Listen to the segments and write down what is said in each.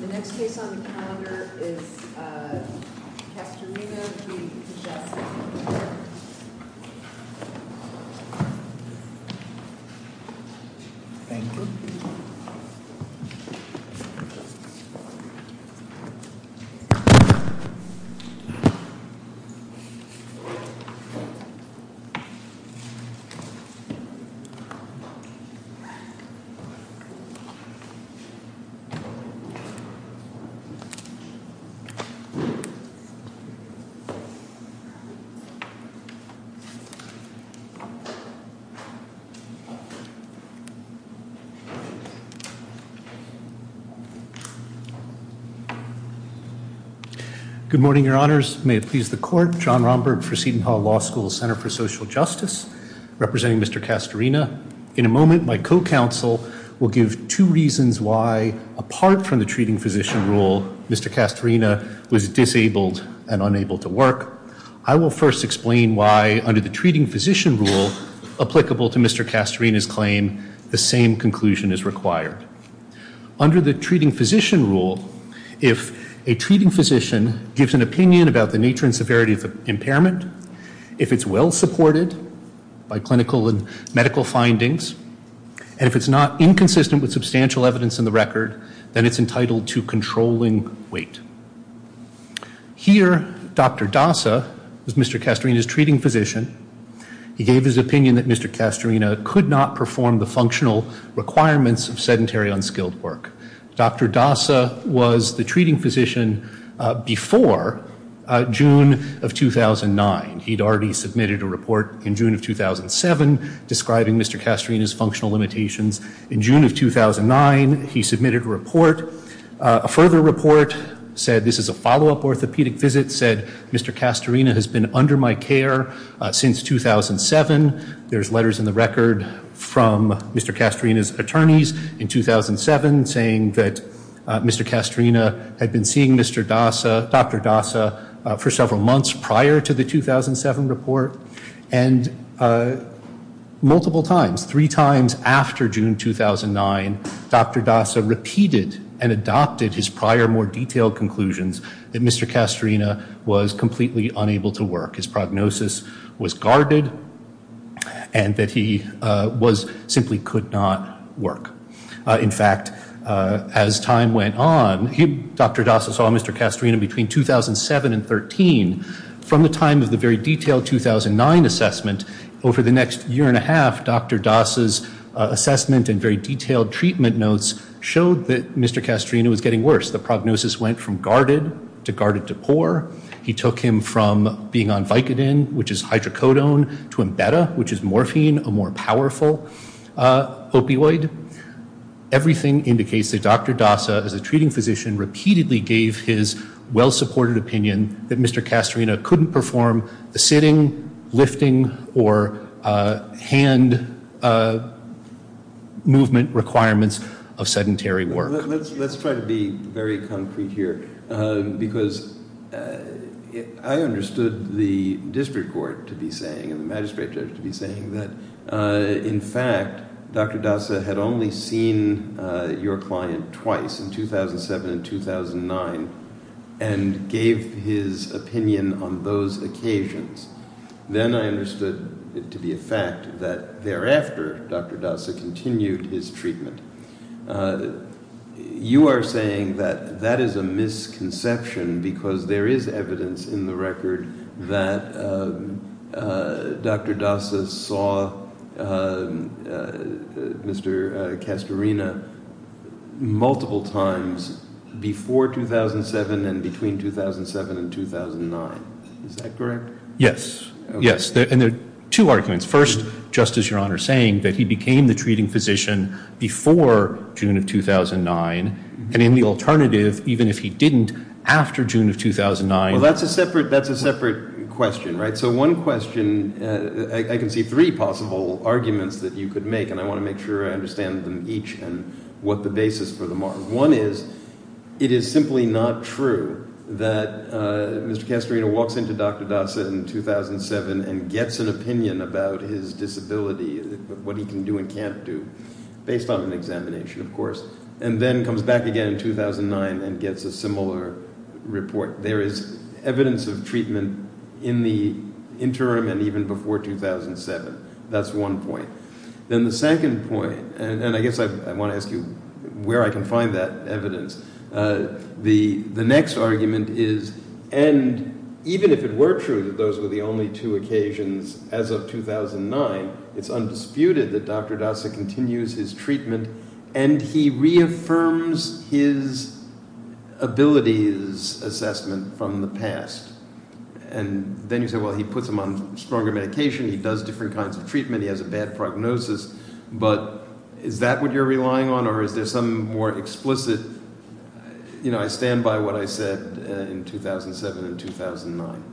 The next case on the calendar is Castorina v. Kijakazi Good morning, your honors. May it please the court, John Romberg for Seton Hall Law School's Center for Social Justice, representing Mr. Castorina. In a moment, my co-counsel will give two reasons why, apart from the treating physician rule, Mr. Castorina was disabled and unable to work. I will first explain why, under the treating physician rule, applicable to Mr. Castorina's claim, the same conclusion is required. Under the treating physician rule, if a treating physician gives an opinion about the nature and severity of impairment, if it's well supported by clinical and medical findings, and if it's not inconsistent with substantial evidence in the record, then it's entitled to controlling weight. Here, Dr. Dasa, Mr. Castorina's treating physician, he gave his opinion that Mr. Castorina could not perform the functional requirements of sedentary, unskilled work. Dr. Dasa was the treating physician before June of 2009. He'd already submitted a report in June of 2007 describing Mr. Castorina's functional limitations. In June of 2009, he submitted a report. A further report said, this is a follow-up orthopedic visit, said Mr. Castorina has been under my care since 2007. There's letters in the record from Mr. Castorina's had been seeing Dr. Dasa for several months prior to the 2007 report, and multiple times, three times after June 2009, Dr. Dasa repeated and adopted his prior more detailed conclusions that Mr. Castorina was completely unable to work. His prognosis was guarded, and that simply could not work. In fact, as time went on, Dr. Dasa saw Mr. Castorina between 2007 and 2013. From the time of the very detailed 2009 assessment, over the next year and a half, Dr. Dasa's assessment and very detailed treatment notes showed that Mr. Castorina was getting worse. The prognosis went from guarded to guarded to poor. He took him from being on Vicodin, which is hydrocodone, to Embedda, which is morphine, a more powerful opioid. Everything indicates that Dr. Dasa, as a treating physician, repeatedly gave his well-supported opinion that Mr. Castorina couldn't perform the sitting, lifting, or hand movement requirements of sedentary work. Let's try to be very concrete here, because I understood the district court to be saying, and the magistrate judge to be saying that, in fact, Dr. Dasa had only seen your client twice, in 2007 and 2009, and gave his opinion on those occasions. Then I understood it to be a fact that after Dr. Dasa continued his treatment. You are saying that that is a misconception, because there is evidence in the record that Dr. Dasa saw Mr. Castorina multiple times before 2007 and between 2007 and 2009. Is that correct? Yes. Yes. And there are two arguments. First, just as Your Honor is saying, that he became the treating physician before June of 2009, and in the alternative, even if he didn't, after June of 2009. Well, that's a separate question, right? I can see three possible arguments that you could make, and I want to make sure I understand them each and what the basis for them are. One is, it is simply not true that Mr. Castorina walks into Dr. Dasa in 2007 and gets an opinion about his disability, what he can do and can't do, based on an examination, of course, and then comes back again in 2009 and gets a similar report. There is evidence of treatment in the interim and even before 2007. That's one point. Then the second point, and I guess I want to ask you where I can find that evidence, the next argument is, and even if it weren't true that those were the only two occasions as of 2009, it's undisputed that Dr. Dasa continues his treatment and he reaffirms his abilities assessment from the past. And then you say, well, he puts him on stronger medication, he does different kinds of treatment, he has a bad prognosis, but is that what you're relying on or is there some more explicit, you know, I stand by what I said in 2007 and 2009.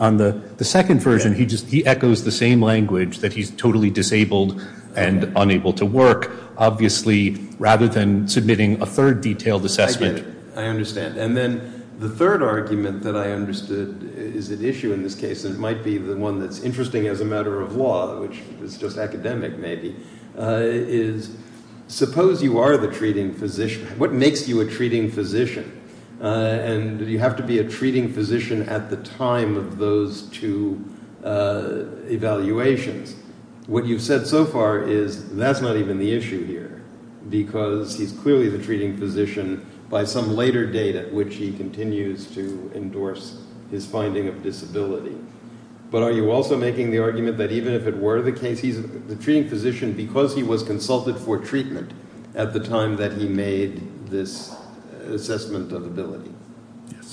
On the second version, he echoes the same language that he's totally disabled and unable to work, obviously, rather than submitting a third detailed assessment. I understand. And then the third argument that I understood is an issue in this case, it might be the one that's interesting as a matter of law, which is just academic maybe, is suppose you are the treating physician, what makes you a treating physician? And do you have to be a treating physician at the time of those two evaluations? What you've said so far is that's not even the issue here, because he's clearly the treating physician by some later date at which he continues to endorse his finding of disability. But are you also making the argument that even if it were the case, he's the treating physician because he was consulted for treatment at the time that he made this assessment of ability?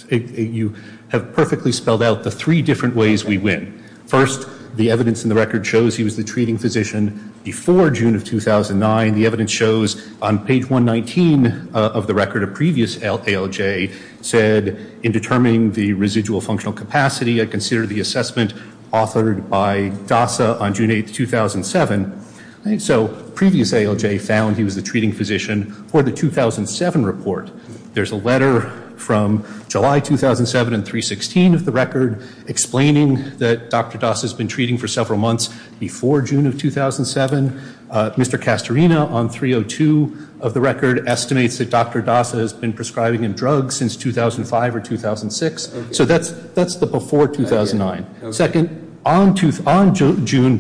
You have perfectly spelled out the three different ways we win. First, the evidence in the record shows he was the treating physician before June of 2009. The evidence shows on page 119 of the record, a previous ALJ said in determining the residual functional capacity, I consider the assessment authored by DASA on June 8, 2007. So previous ALJ found he was the treating physician for the 2007 report. There's a letter from July 2007 and 316 of the record explaining that Dr. DASA has been treating for several months before June of 2007. Mr. Castorina on 302 of the record estimates that Dr. DASA has been prescribing in drugs since 2005 or 2006. So that's the before 2009. Second, on June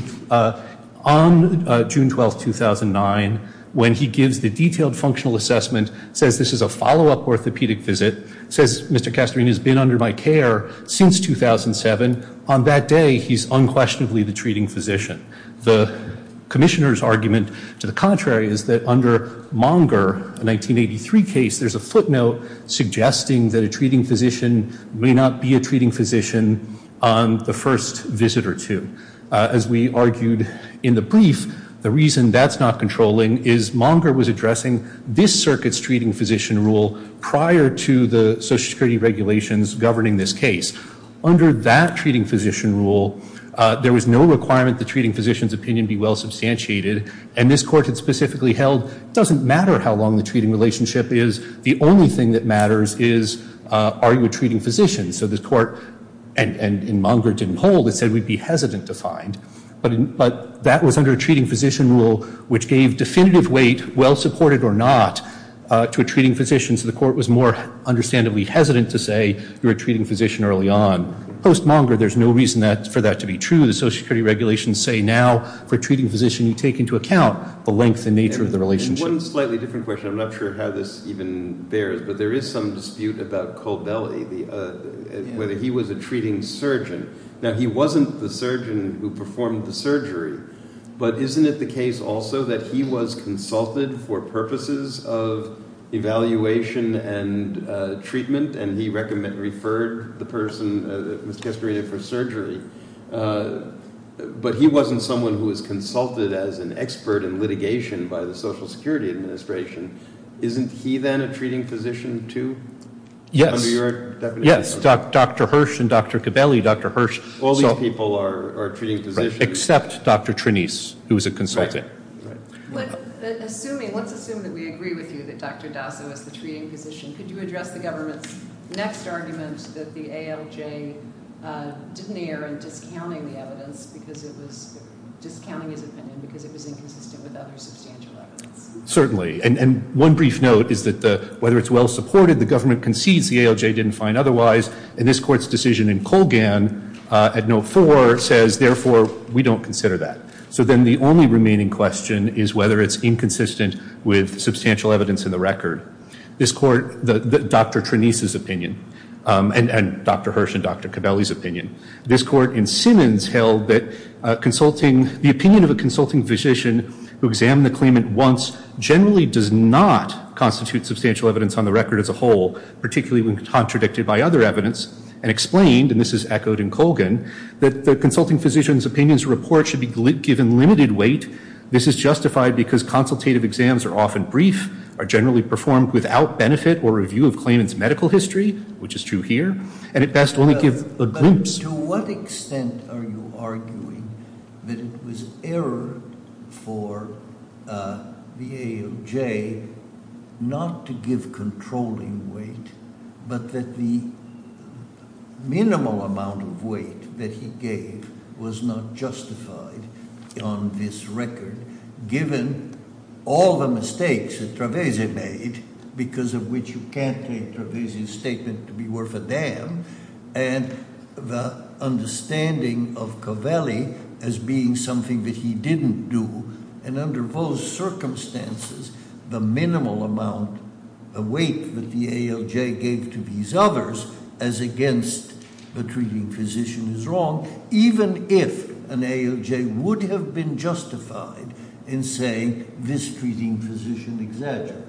12, 2009, when he gives the detailed functional assessment, says this is a follow-up orthopedic visit, says Mr. Castorina has been under my care since 2007, on that day, he's unquestionably the treating physician. The commissioner's argument to the contrary is that under Monger, a 1983 case, there's a footnote suggesting that a treating physician may not be a treating physician on the first visit or two. As we argued in the brief, the reason that's not controlling is Monger was addressing this circuit's treating physician rule prior to the social security regulations governing this case. Under that treating physician rule, there was no requirement the treating physician's opinion be well substantiated, and this court had specifically held it doesn't matter how long the treating relationship is, the only thing that matters is are you a treating physician. So this court, and Monger didn't hold it, said we'd be hesitant to find. But that was under a treating physician rule which gave definitive weight, well-supported or not, to a treating physician. So the court was more understandably hesitant to say you're a treating physician early on. Post-Monger, there's no reason for that to be true. The social security regulations say now, for a treating physician, you take into account the length and nature of the relationship. One slightly different question. I'm not sure how this even bears, but there is some dispute about Cobelli, whether he was a treating surgeon. Now, he wasn't the surgeon who performed the surgery, but isn't it the case also that he was consulted for purposes of evaluation and treatment, and he referred the person who was castrated for surgery? But he wasn't someone who was consulted as an expert in litigation by the Social Security Administration. Isn't he then a treating physician too? Yes, Dr. Hirsch and Dr. Cobelli, Dr. Hirsch, except Dr. Trinise, who was a consultant. Let's assume that we agree with you that Dr. Dato is a treating physician. Could you address the government's next argument that the ALJ didn't err in discounting the defendant because it was inconsistent with other substantial evidence? Certainly, and one brief note is that whether it's well supported, the government concedes the ALJ didn't find otherwise, and this court's decision in Colgan at note four says, therefore, we don't consider that. So then the only remaining question is whether it's inconsistent with substantial evidence in the Trinise's opinion and Dr. Hirsch and Dr. Cobelli's opinion. This court in Simmons held that the opinion of a consulting physician who examined the claimant once generally does not constitute substantial evidence on the record as a whole, particularly when contradicted by other evidence, and explained, and this is echoed in Colgan, that the consulting physician's opinion's report should be given limited weight. This is justified because consultative exams are often brief, are generally performed without benefit or review of claimant's medical history, which is true here, and at best only give the groups. But to what extent are you arguing that it was error for the ALJ not to give controlling weight, but that the minimal amount of weight that he gave was not justified on this record, given all the mistakes that Trevesi made, because of which you can't take Trevesi's statement to be worth a damn, and the understanding of Cobelli as being something that he didn't do, and under those circumstances, the minimal amount, the weight that the ALJ gave to these others as against the treating physician is wrong, even if an ALJ would have been justified in saying this treating physician exaggerated.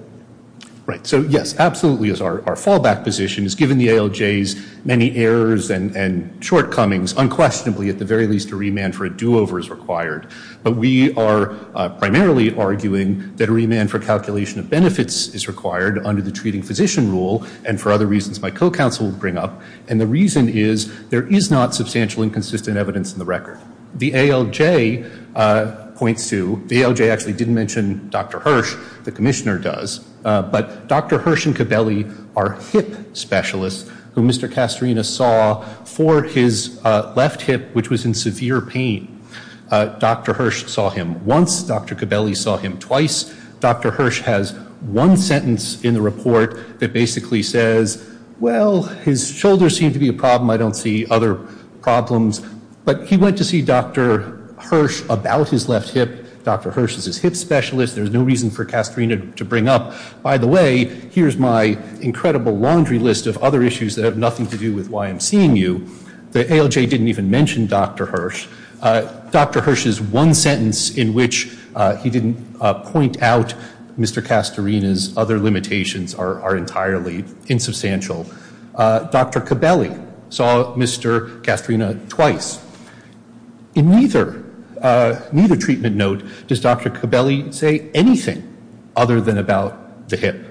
Right. So yes, absolutely, our fallback position is given the ALJ's many errors and shortcomings, unquestionably, at the very least a remand for a do-over is required. But we are primarily arguing that a remand for calculation of benefits is required under the treating physician rule, and for other reasons my co-counsel will bring up. And the reason is, there is not substantial inconsistent evidence in the record. The ALJ points to, the ALJ actually didn't mention Dr. Hirsch, the commissioner does, but Dr. Hirsch and Cobelli are hip specialists, who Mr. Castorina saw for his left hip, which was in severe pain. Dr. Hirsch saw him once, Dr. Cobelli saw him twice. Dr. Hirsch has one sentence in the report that basically says, well, his shoulders seem to be a problem, I don't see other problems. But he went to see Dr. Hirsch about his left hip, Dr. Hirsch is his hip specialist, there's no reason for Castorina to bring up, by the way, here's my incredible laundry list of other issues that have nothing to do with why I'm seeing you. The ALJ didn't even mention Dr. Hirsch. Dr. Hirsch's one sentence in which he didn't point out Mr. Castorina's other limitations are entirely insubstantial. Dr. Cobelli saw Mr. Castorina twice. In neither treatment note, does Dr. Cobelli say anything other than about the hip.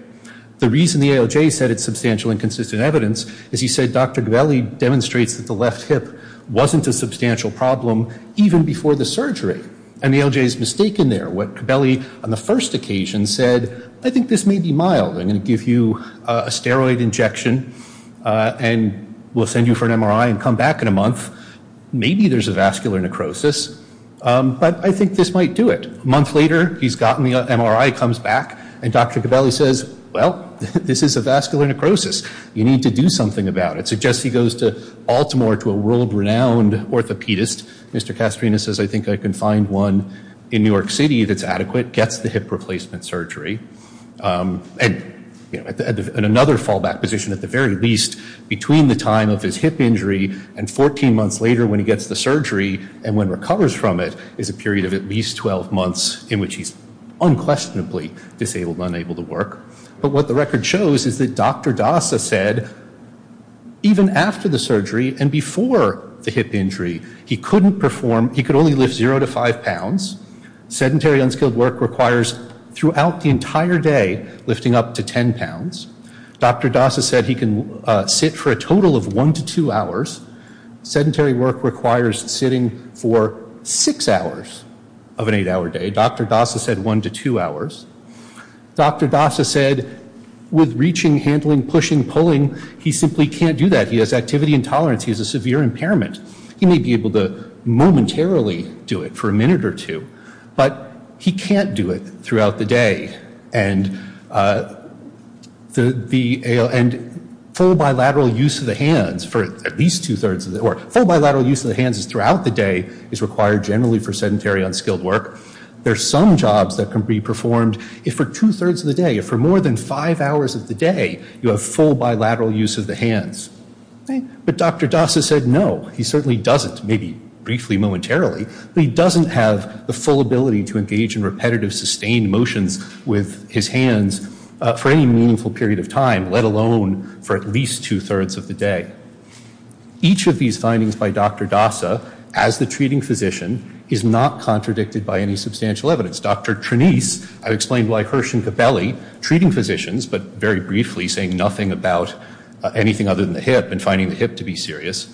The reason the ALJ said it's substantial inconsistent evidence, is he said Dr. Cobelli demonstrates that the left hip wasn't a substantial problem, even before the surgery. And the ALJ is mistaken there. What Cobelli on the first occasion said, I think this may be mild, and give you a steroid injection, and we'll send you for an MRI and come back in a month. Maybe there's a vascular necrosis. But I think this might do it. A month later, he's gotten the MRI, comes back, and Dr. Cobelli says, well, this is a vascular necrosis, you need to do something about it. So Jesse goes to Baltimore to a world renowned orthopedist, Mr. Castorina says, I think I can find one in New York City that's adequate, gets the hip replacement surgery. And another fallback position, at the very least, between the time of his hip injury and 14 months later when he gets the surgery, and when recovers from it, is a period of at least 12 months in which he's unquestionably disabled, unable to work. But what the record shows is that Dr. Dasa said, even after the surgery and before the hip injury, he couldn't perform, he could only lift zero to five pounds. Sedentary, unskilled work requires throughout the entire day, lifting up to 10 pounds. Dr. Dasa said he can sit for a total of one to two hours. Sedentary work requires sitting for six hours of an eight hour day. Dr. Dasa said one to two hours. Dr. Dasa said, with reaching, handling, pushing, pulling, he simply can't do that. He has activity intolerance, he has a severe impairment. He may be able to momentarily do it for a minute or two, but he can't do it throughout the day. And full bilateral use of the hands for at least two thirds of the, or full bilateral use of the hands throughout the day is required generally for sedentary, unskilled work. There's some jobs that can be performed if for two thirds of the day, for more than five hours of the day, you have full bilateral use of the hands. But Dr. Dasa said, no, he certainly doesn't, maybe briefly momentarily, but he doesn't have the full ability to engage in repetitive, sustained motions with his hands for any meaningful period of time, let alone for at least two thirds of the day. Each of these findings by Dr. Dasa as the treating physician is not contradicted by any substantial evidence. Dr. Treating physicians, but very briefly saying nothing about anything other than the hip and finding the hip to be serious.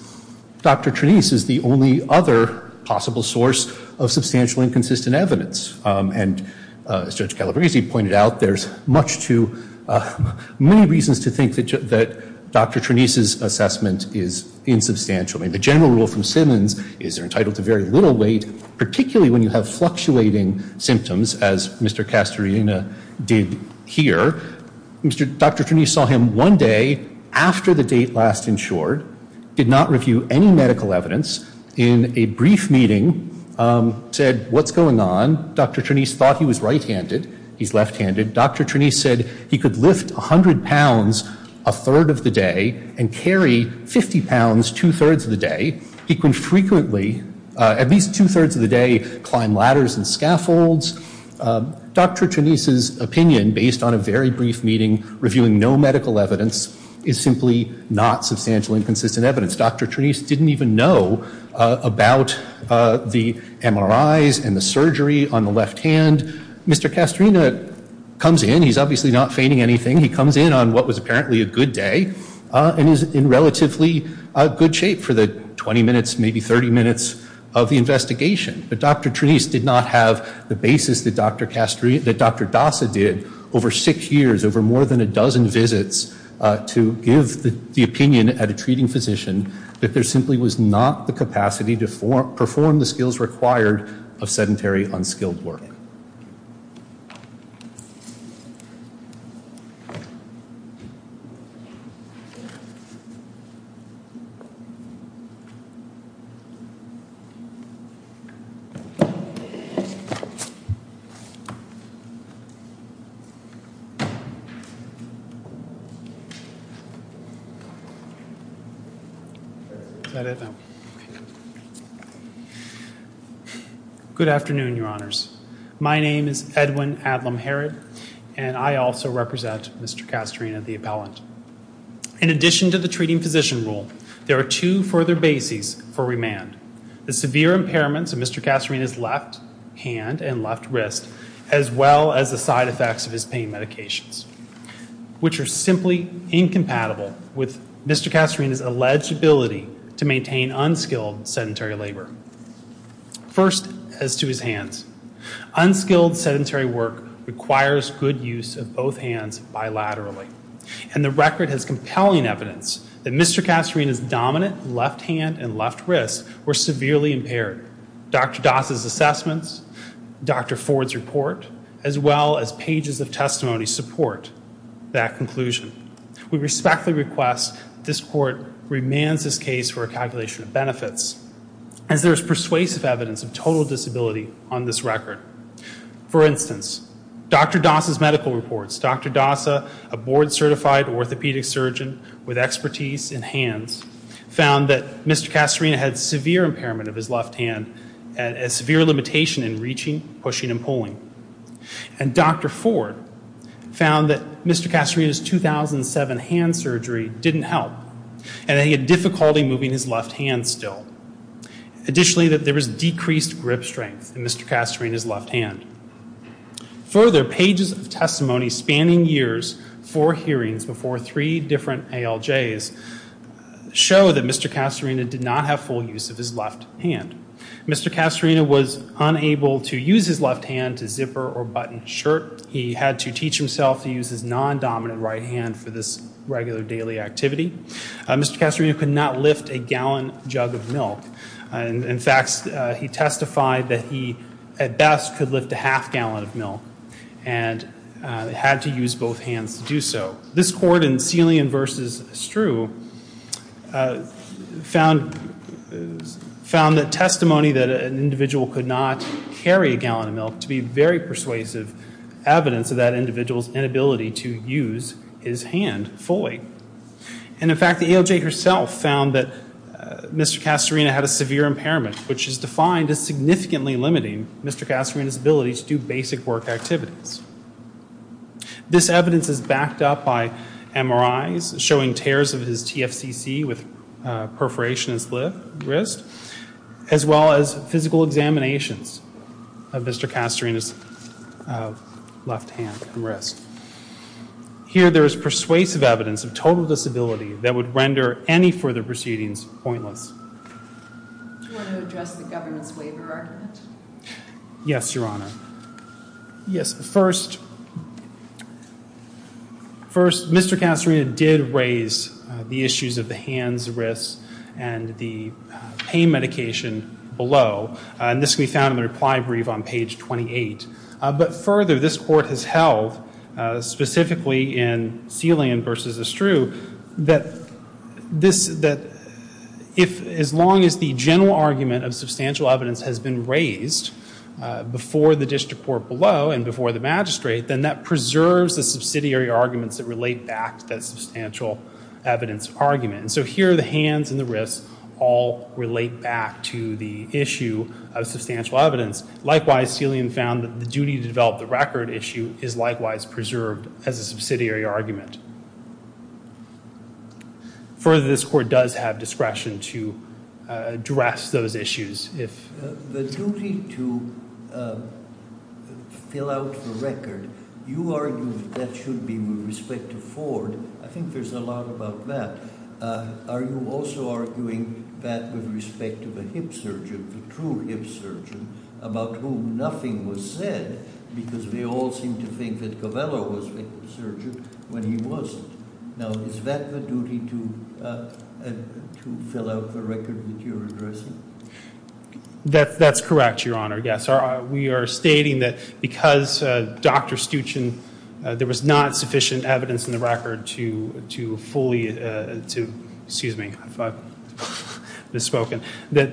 Dr. Trenise is the only other possible source of substantial inconsistent evidence. And as Dr. Calabresi pointed out, there's much too many reasons to think that Dr. Trenise's assessment is insubstantial. And the general rule from Simmons is they're entitled to very little weight, particularly when you have fluctuating symptoms, as Mr. Castorina did here. Dr. Trenise saw him one day after the date last insured, did not review any medical evidence, in a brief meeting said, what's going on? Dr. Trenise thought he was right-handed, he's left-handed. Dr. Trenise said he could lift 100 pounds a third of the day and carry 50 pounds two thirds of the day. He can frequently, at least two thirds of the day, climb ladders and scaffolds. Dr. Trenise's opinion, based on a very brief meeting, reviewing no medical evidence, is simply not substantial inconsistent evidence. Dr. Trenise didn't even know about the MRIs and the surgery on the left hand. Mr. Castorina comes in, he's obviously not feigning anything, he comes in on what was apparently a good day and is in relatively a good shape for the 20 minutes, maybe 30 minutes of the investigation. But Dr. Trenise did not have the basis that Dr. Dossa did over six years, over more than a dozen visits, to give the opinion at a treating physician that there simply was not the capacity to perform the skills required for sedentary, unskilled work. Good afternoon, your honors. My name is Edwin Adlam Harris and I also represent Mr. Castorina, the appellant. In addition to the treating physician rule, there are two further bases for remand. The severe impairments of Mr. Castorina's left hand and left wrist, as well as the side effects of his pain medications, which are simply incompatible with Mr. Castorina's legibility to maintain unskilled sedentary labor. First, as to his hands, unskilled sedentary work requires good use of both hands bilaterally. And the record has compelling evidence that Mr. Castorina's dominant left hand and left wrist were severely impaired. Dr. Dossa's assessments, Dr. Ford's report, as well as pages of testimony support that conclusion. We respectfully request this court remand this case for a calculation of benefits. And there is persuasive evidence of total disability on this record. For instance, Dr. Dossa's medical reports, Dr. Dossa, a board certified orthopedic surgeon with expertise in hands, found that Mr. Castorina had severe impairment of his left hand and a severe limitation in reaching, pushing, and pulling. And Dr. Ford found that Mr. Castorina's 2007 hand surgery didn't help and that he had difficulty moving his left hand still. Additionally, that there was decreased grip strength in Mr. Castorina's left hand. Further, pages of testimony spanning years for hearings before three different ALJs show that Mr. Castorina did not have full use of his left hand. Mr. Castorina was unable to use his left hand to zipper or button a shirt. He had to teach himself to use his non-dominant right hand for this regular daily activity. Mr. Castorina could not lift a gallon jug of milk. In fact, he testified that he, at best, could lift a half gallon of milk and had to use both hands to do so. This court in Celian v. Strew found that testimony that an individual could not carry a gallon of milk to be very persuasive evidence of that individual's inability to use his hand fully. And in fact, the ALJ herself found that Mr. Castorina had a severe impairment, which is defined as significantly limiting Mr. Castorina's ability to do basic work activities. This evidence is backed up by MRIs showing tears of his TFCC with perforation and slit wrist, as well as physical examinations of Mr. Castorina's left hand and wrist. Here there is persuasive evidence of total disability that would render any further proceedings pointless. Do you want to address the government's waiver argument? Yes, Your Honor. Yes. First, Mr. Castorina did raise the issues of the hands, wrist, and the pain medication below. And this we found in the reply brief on page 28. But further, this court has held, specifically in Celian v. Strew, that as long as the general argument of substantial evidence has been raised before the district court below and before the magistrate, then that preserves the subsidiary arguments that relate back to that substantial evidence argument. So here the hands and the wrist all relate back to the issue of substantial evidence. Likewise, Celian found that the duty to develop the record issue is likewise preserved as a subsidiary argument. Further, this court does have discretion to address those issues if the duty to fill out the record – you argue that that should be with respect to Ford. I think there is a lot about that. Are you also arguing that with respect to the hip surgeon, the true hip surgeon, about whom nothing was said, because we all seem to think that Covello was a hip surgeon when he was. Now, is that the duty to fill out the record that you are addressing? That's correct, Your Honor. Yes. We are stating that because Dr. Stuchin – there was not sufficient evidence in the record to fully – excuse me – that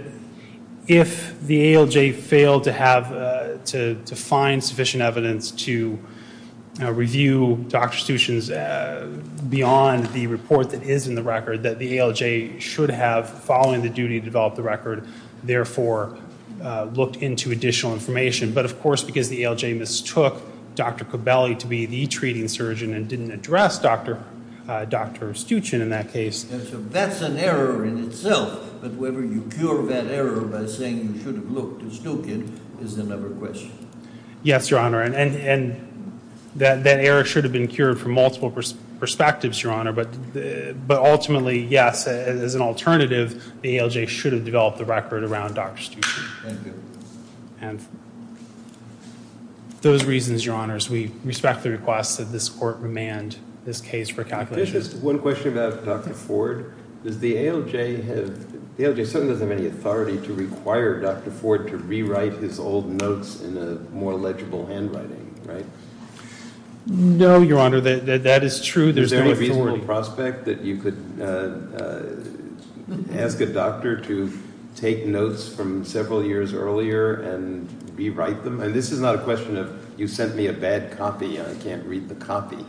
if the ALJ failed to find sufficient evidence to review Dr. Stuchin's beyond the report that is in the record, that the ALJ should have, following the duty to develop the record, therefore, looked into additional information. But, of course, because the ALJ mistook Dr. Covelli to be the treating surgeon and didn't address Dr. Stuchin in that case. And so that's an error in itself, that whether you cure that error by saying you should have looked at Stuchin is another question. Yes, Your Honor. And that error should have been cured from multiple perspectives, Your Honor, but ultimately, yes, as an alternative, the ALJ should have developed the record around Dr. Stuchin. Those reasons, Your Honor, we respectfully request that this Court remand this case for calculation. Just one question about Dr. Ford. Does the ALJ have – the ALJ certainly doesn't have any authority to require Dr. Ford to rewrite his old notes in a more legible handwriting, right? No, Your Honor, that is true. Is there a reasonable prospect that you could ask a doctor to take notes from several years earlier and rewrite them? And this is not a question of, you sent me a bad copy, I can't read the copy.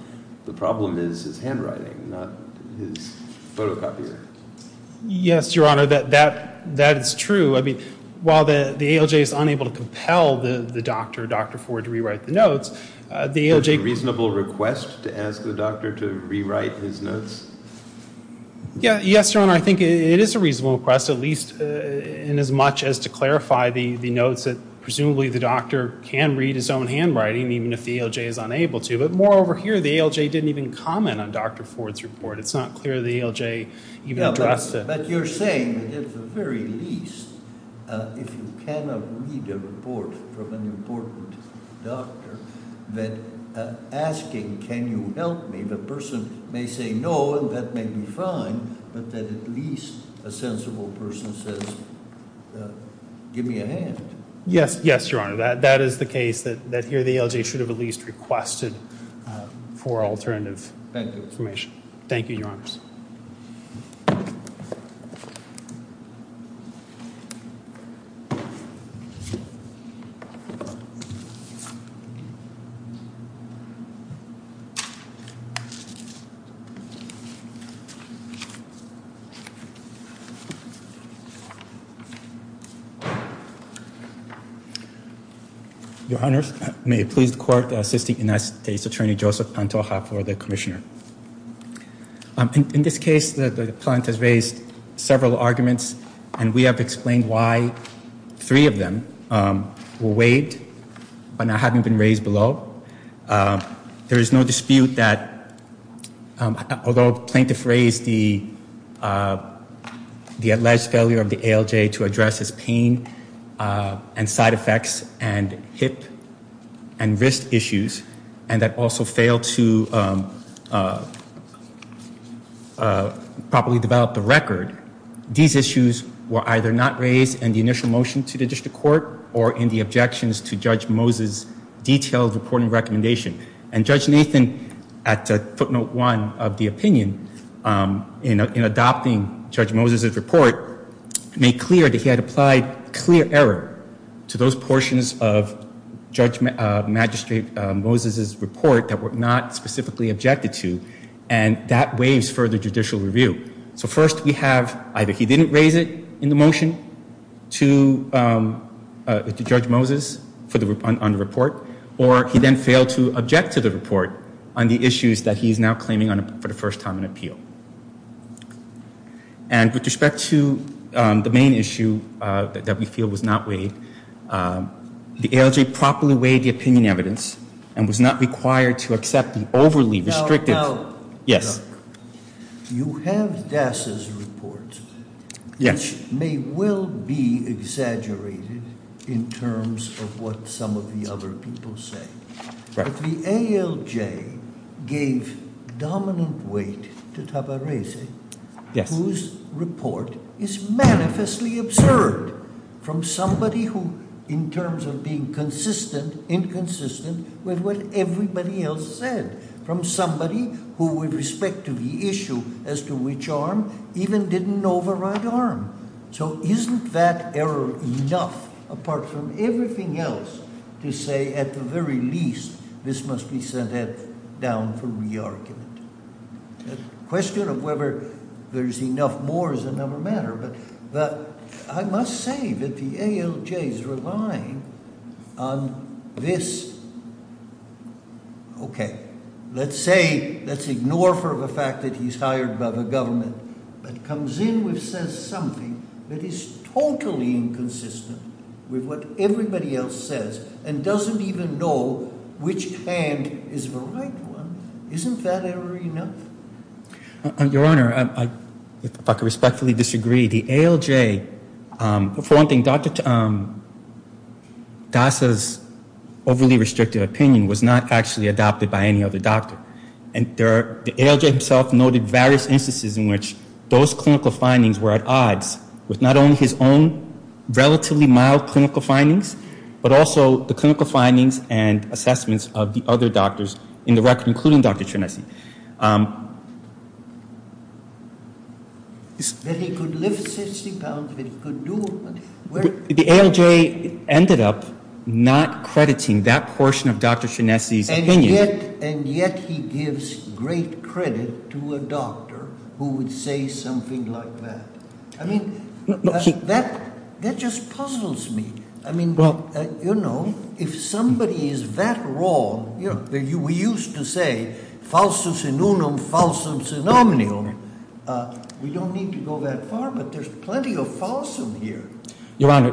The problem is his handwriting, not his photocopier. Yes, Your Honor, that is true. I mean, while the ALJ is unable to compel the doctor, Dr. Ford, to rewrite the notes, the ALJ… A reasonable request to ask the doctor to rewrite his notes? Yes, Your Honor, I think it is a reasonable request, at least in as much as to clarify the notes that presumably the doctor can read his own handwriting, even if the ALJ is unable to. But moreover here, the ALJ didn't even comment on Dr. Ford's report. It's at the very least, if you cannot read a report from an important doctor, that asking, can you help me, the person may say no, and that may be fine, but that at least a sensible person says, give me a hand. Yes, Your Honor, that is the case, that here the ALJ should have at least a reasonable request to ask Dr. Ford to rewrite his notes. Your Honor, may it please the court to assist the United States Attorney Joseph Pantoja for the commissioner. In this case, the plaintiff raised several arguments, and we have explained why three of them were weighed, but not having been raised below. There is no dispute that, although plaintiffs raised the alleged failure of the ALJ to address its pain and side effects and hip and wrist issues, and that also failed to properly develop the record, these issues were either not raised in the initial motion to the district court or in the objections to Judge Moses' detailed reporting recommendation. And Judge Nathan, at footnote one of the opinion in adopting Judge Moses' report, made clear that he had clear error to those portions of Judge Magistrate Moses' report that were not specifically objected to, and that raised further judicial review. So first we have either he didn't raise it in the motion to Judge Moses on the report, or he then failed to object to the report on the issues that he is now claiming for the first time in appeal. And with respect to the main issue that we feel was not weighed, the ALJ properly weighed the opinion evidence and was not required to accept an overly restrictive... Yes. You have DASA's report. Yes. It may well be exaggerated in terms of what some of the other people say, but the ALJ gave dominant weight to Tabarese, whose report is manifestly absurd from somebody who, in terms of being consistent, inconsistent with what everybody else said, from somebody who, with respect to the issue as to which arm, even didn't know the right arm. So isn't that error enough, apart from everything else, to say, at the very least, this must be sent down for re-argument? The question of whether there's enough more is another matter, but I must say that the ALJ's relying on this... Okay, let's say, let's ignore for the fact that he's hired by the government, that comes in which says something that is totally inconsistent with what everybody else says and doesn't even know which hand is the right one. Isn't that error enough? Your Honor, I respectfully disagree. The ALJ, for one thing, DASA's overly restrictive opinion was not actually adopted by any other doctor. And the ALJ himself noted various instances in which those clinical findings were at odds with not only his own relatively mild clinical findings, but also the clinical findings and assessments of the other doctors in the record, including Dr. Finessi. That he could lift his hip out, that he could do... The ALJ ended up not crediting that portion of Dr. Finessi's opinion... And yet he gives great credit to a doctor who would say something like that. I mean, that just puzzles me. I mean, you know, if somebody is that wrong, we used to say, we don't need to go that far, but there's plenty of falsehood here. Your Honor,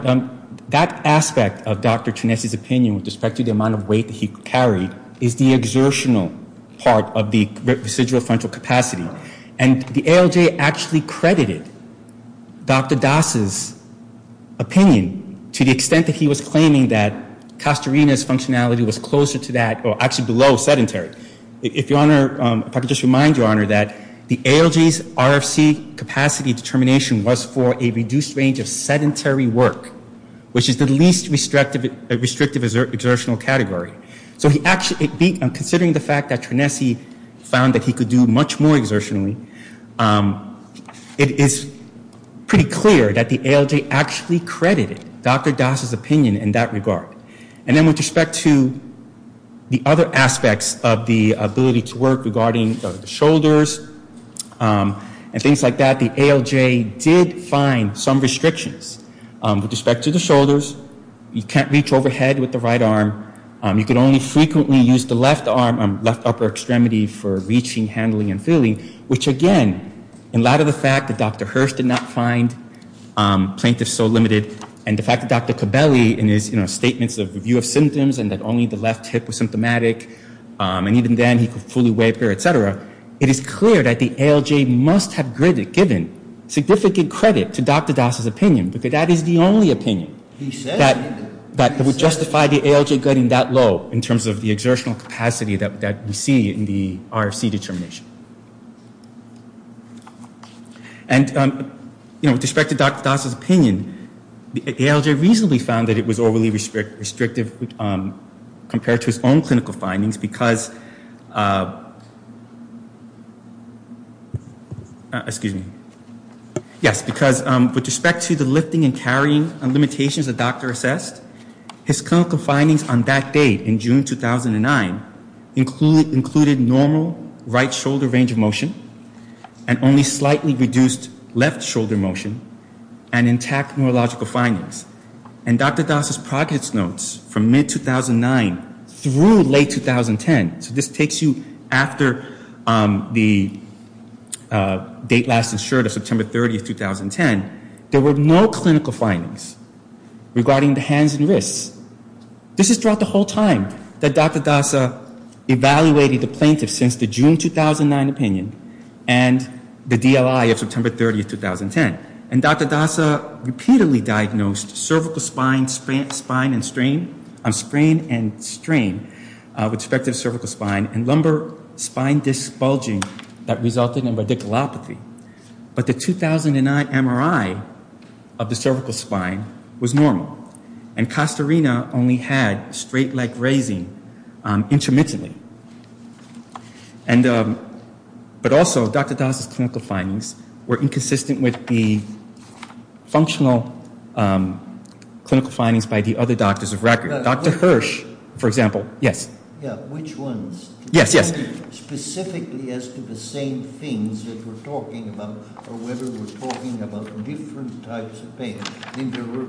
that aspect of Dr. Finessi's opinion with respect to the amount of weight that he was able to lift out of the residual frontal capacitor, that was a very exertional part of the residual frontal capacitor. And the ALJ actually credited Dr. DASA's opinion to the extent that he was claiming that Castorina's functionality was closer to that, or actually below sedentary. If Your Honor, if I could just remind Your Honor that the ALJ's RFC capacity determination was for a reduced range of sedentary work, which is the least restrictive exertional category. So considering the fact that Finessi found that he could do much more exertionally, it is pretty clear that the ALJ actually credited Dr. DASA's opinion in that regard. And then with respect to the other aspects of the ability to work regarding shoulders and things like that, the ALJ did find some restrictions with respect to the shoulders. You can't reach overhead with the right arm. You can only frequently use the left arm, left upper extremity, for reaching, handling, and feeling, which again, in light of the fact that Dr. Hurst did not find plaintiff so limited, and the fact that Dr. Cabelli in his statements of review of symptoms and that only the left hip was symptomatic, and even then he could fully waive her, etc., it is clear that the ALJ must have given significant credit to Dr. DASA's opinion, because that is the only opinion that would justify the ALJ getting that low in terms of the exertional capacity that we see in the RFC determination. And with respect to Dr. DASA's opinion, the ALJ reasonably found that it was overly restrictive compared to his own clinical findings, because with respect to the lifting and carrying limitations the doctor assessed, his clinical findings on that date, in June 2009, included normal right shoulder range of motion, and only slightly reduced left shoulder motion, and intact neurological findings. And Dr. DASA's progress notes from mid-2009 through late 2010, so this takes you after the date last insured of September 30, 2010, there were no clinical findings regarding the hands and wrists. This is throughout the whole time that Dr. DASA evaluated the plaintiff since the June 2009 opinion, and the DLI of September 30, 2010. And Dr. DASA repeatedly diagnosed cervical spine, sprain, and strain, with respect to cervical spine, and lumbar spine disc bulging that resulted in radiculopathy. But the 2009 MRI of the cervical spine was normal, and costa rena only had straight leg raising intermittently. And, but also, Dr. DASA's clinical findings were inconsistent with the functional clinical findings by the other doctors of record. Dr. Hirsch, for example, yes. Yeah, which ones? Yes, yes. Specifically as to the same things that we're talking about, or whether we're talking about different types of things, because we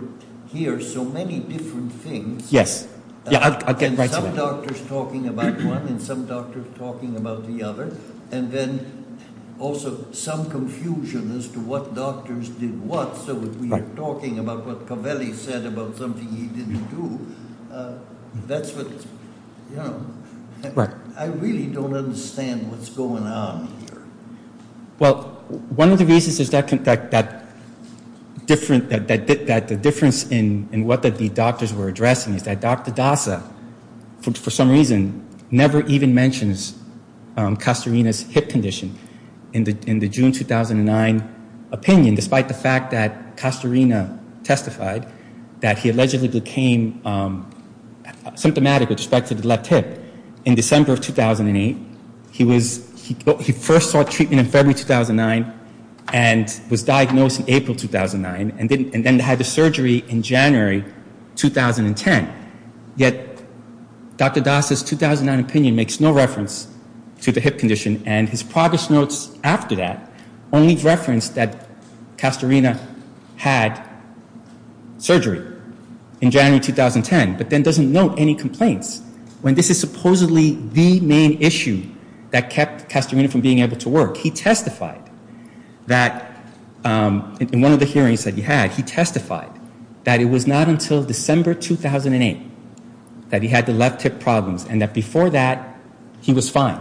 hear so many different things. Again, some doctors talking about one, and some doctors talking about the other, and then also some confusion as to what doctors did what, so that we're talking about what Covelli said about something he didn't do. That's what, you know, I really don't understand what's going on here. Well, one of the reasons is that, in fact, that difference, that the difference in what the doctors were addressing is that Dr. DASA, for some reason, never even mentions costa rena's hip condition in the June 2009 opinion, despite the fact that costa rena testified that he allegedly became symptomatic of spikes of the left hip in December of 2008. He was, he first saw treatment in February 2009, and was diagnosed in April 2009, and then had the surgery in January 2010. Yet, Dr. DASA's 2009 opinion makes no reference to the hip condition, and his progress notes after that only reference that costa rena had surgery in January 2010, but then doesn't note any complaints, when this is supposedly the main issue that kept costa rena from being able to work. He testified that, in one of the hearings that he had, he testified that it was not until December 2008 that he had the left hip problems, and that before that, he was fine.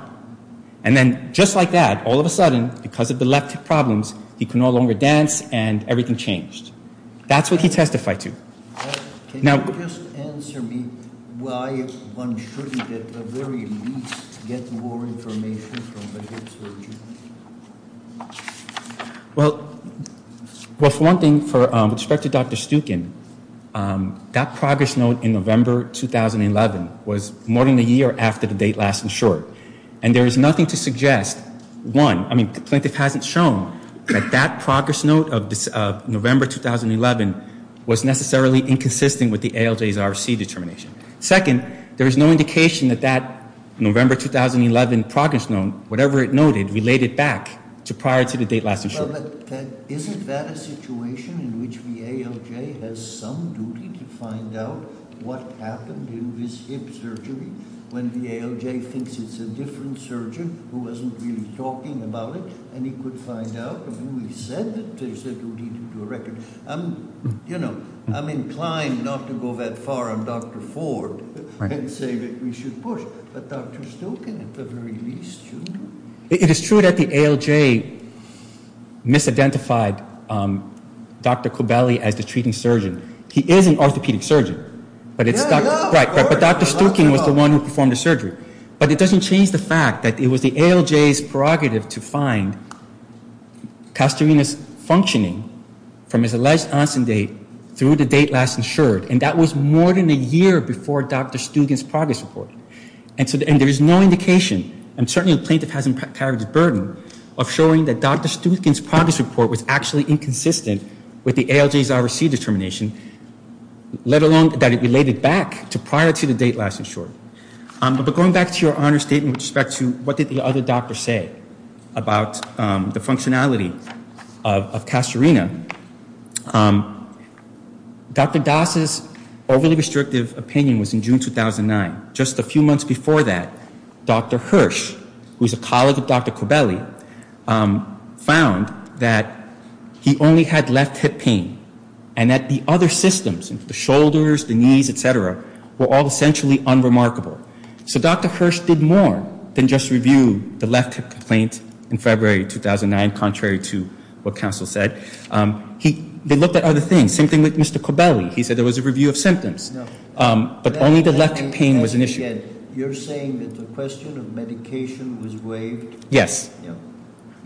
And then, just like that, all of a sudden, because of the left hip problems, he could no longer dance, and everything changed. That's what he testified to. Now, can you just answer me why one shouldn't get the very least, get more information from a hip surgery? Well, for one thing, with respect to Dr. Stukin, that progress note in November 2011 was more than a year after the date last in short, and there's nothing to suggest, one, I mean, the plaintiff hasn't shown that that progress note of November 2011 was necessarily inconsistent with the ALJ's RC determination. Second, there's no indication that that November 2011 progress note, whatever it noted, we laid it back to prior to the date last in short. Is it that a situation in which the ALJ has some duty to find out what happened in his hip surgery, when the ALJ thinks it's a different surgeon who wasn't really talking about it, and he could find out, but when he said that, to a record, I'm, you know, I'm inclined not to go that far on Dr. Ford and say that we should put Dr. Stukin at the very least, shouldn't we? It is true that the ALJ misidentified Dr. Cobelli as the treating surgeon. He is an orthopedic surgeon, but Dr. Stukin was the one who performed the surgery, but it doesn't change the fact that it was the ALJ's prerogative to find Castorina's functioning from his alleged onset date through the date last insured, and that was more than a year before Dr. Stukin's progress report, and there is no indication, and certainly the plaintiff hasn't carried the burden, of showing that Dr. Stukin's progress report was actually inconsistent with the ALJ's RC determination, let alone that it related back to prior to the date last insured. But going back to your honor statement with respect to what did the other doctor say about the functionality of Castorina, Dr. Das' overly restrictive opinion was in June 2009. Just a few months before that, Dr. Hirsch, who is a colleague of Dr. Cobelli, found that he only had less hip pain, and that the other systems, the shoulders, the knees, etc., were all essentially unremarkable. So Dr. Hirsch did more than just review the left hip complaint in February 2009, contrary to what counsel said, he looked at other things, same thing with Mr. Cobelli, he said there was a review of symptoms, but only the left hip pain was an issue. You're saying that the question of medication was weighed? Yes,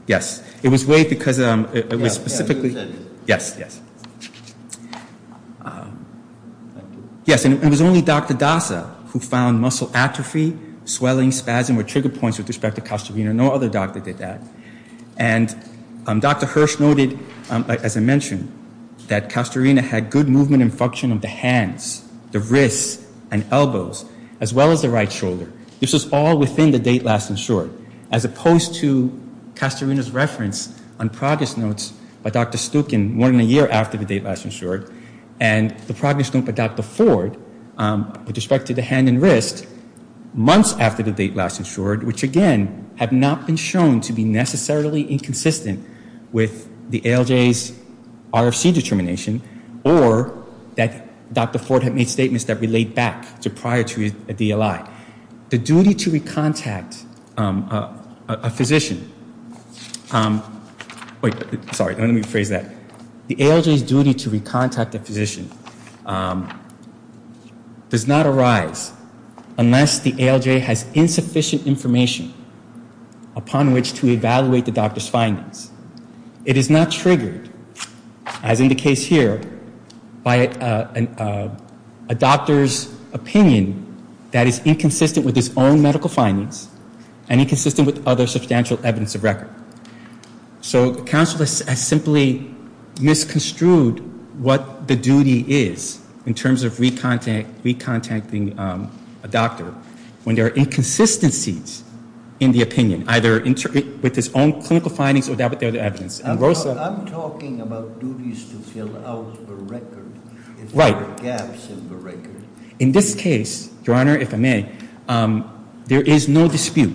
yes, it was weighed because it was specifically, yes, yes. Yes, and it was only Dr. Dasa who found muscle atrophy, swelling, spasm, were trigger points with respect to Castorina, no other doctor did that. And Dr. Hirsch noted, as I mentioned, that Castorina had good movement and function of the hands, the wrists, and elbows, as well as the right shoulder. This was all within the date last insured, as opposed to Castorina's reference on progress notes by Dr. Stukin, one in a year after the date last insured, and the progress note by Dr. Ford, with respect to the hand and wrist, months after the date last insured, which again, have not been shown to be necessarily inconsistent with the ALJ's RFC determination, or that Dr. Ford had made statements that relate back to prior to a physician. Wait, sorry, let me rephrase that. The ALJ's duty to recontact a physician does not arise unless the ALJ has insufficient information upon which to evaluate the doctor's findings. It is not triggered, as in the case here, by a doctor's opinion that is inconsistent with his own medical findings, and inconsistent with other substantial evidence of record. So counsel has simply misconstrued what the duty is, in terms of recontacting a doctor, when there are inconsistencies in the opinion, either with his own clinical findings or that with other evidence. I'm talking about duties to fill out the record. Right. Gaps in the record. In this case, your honor, if I may, there is no dispute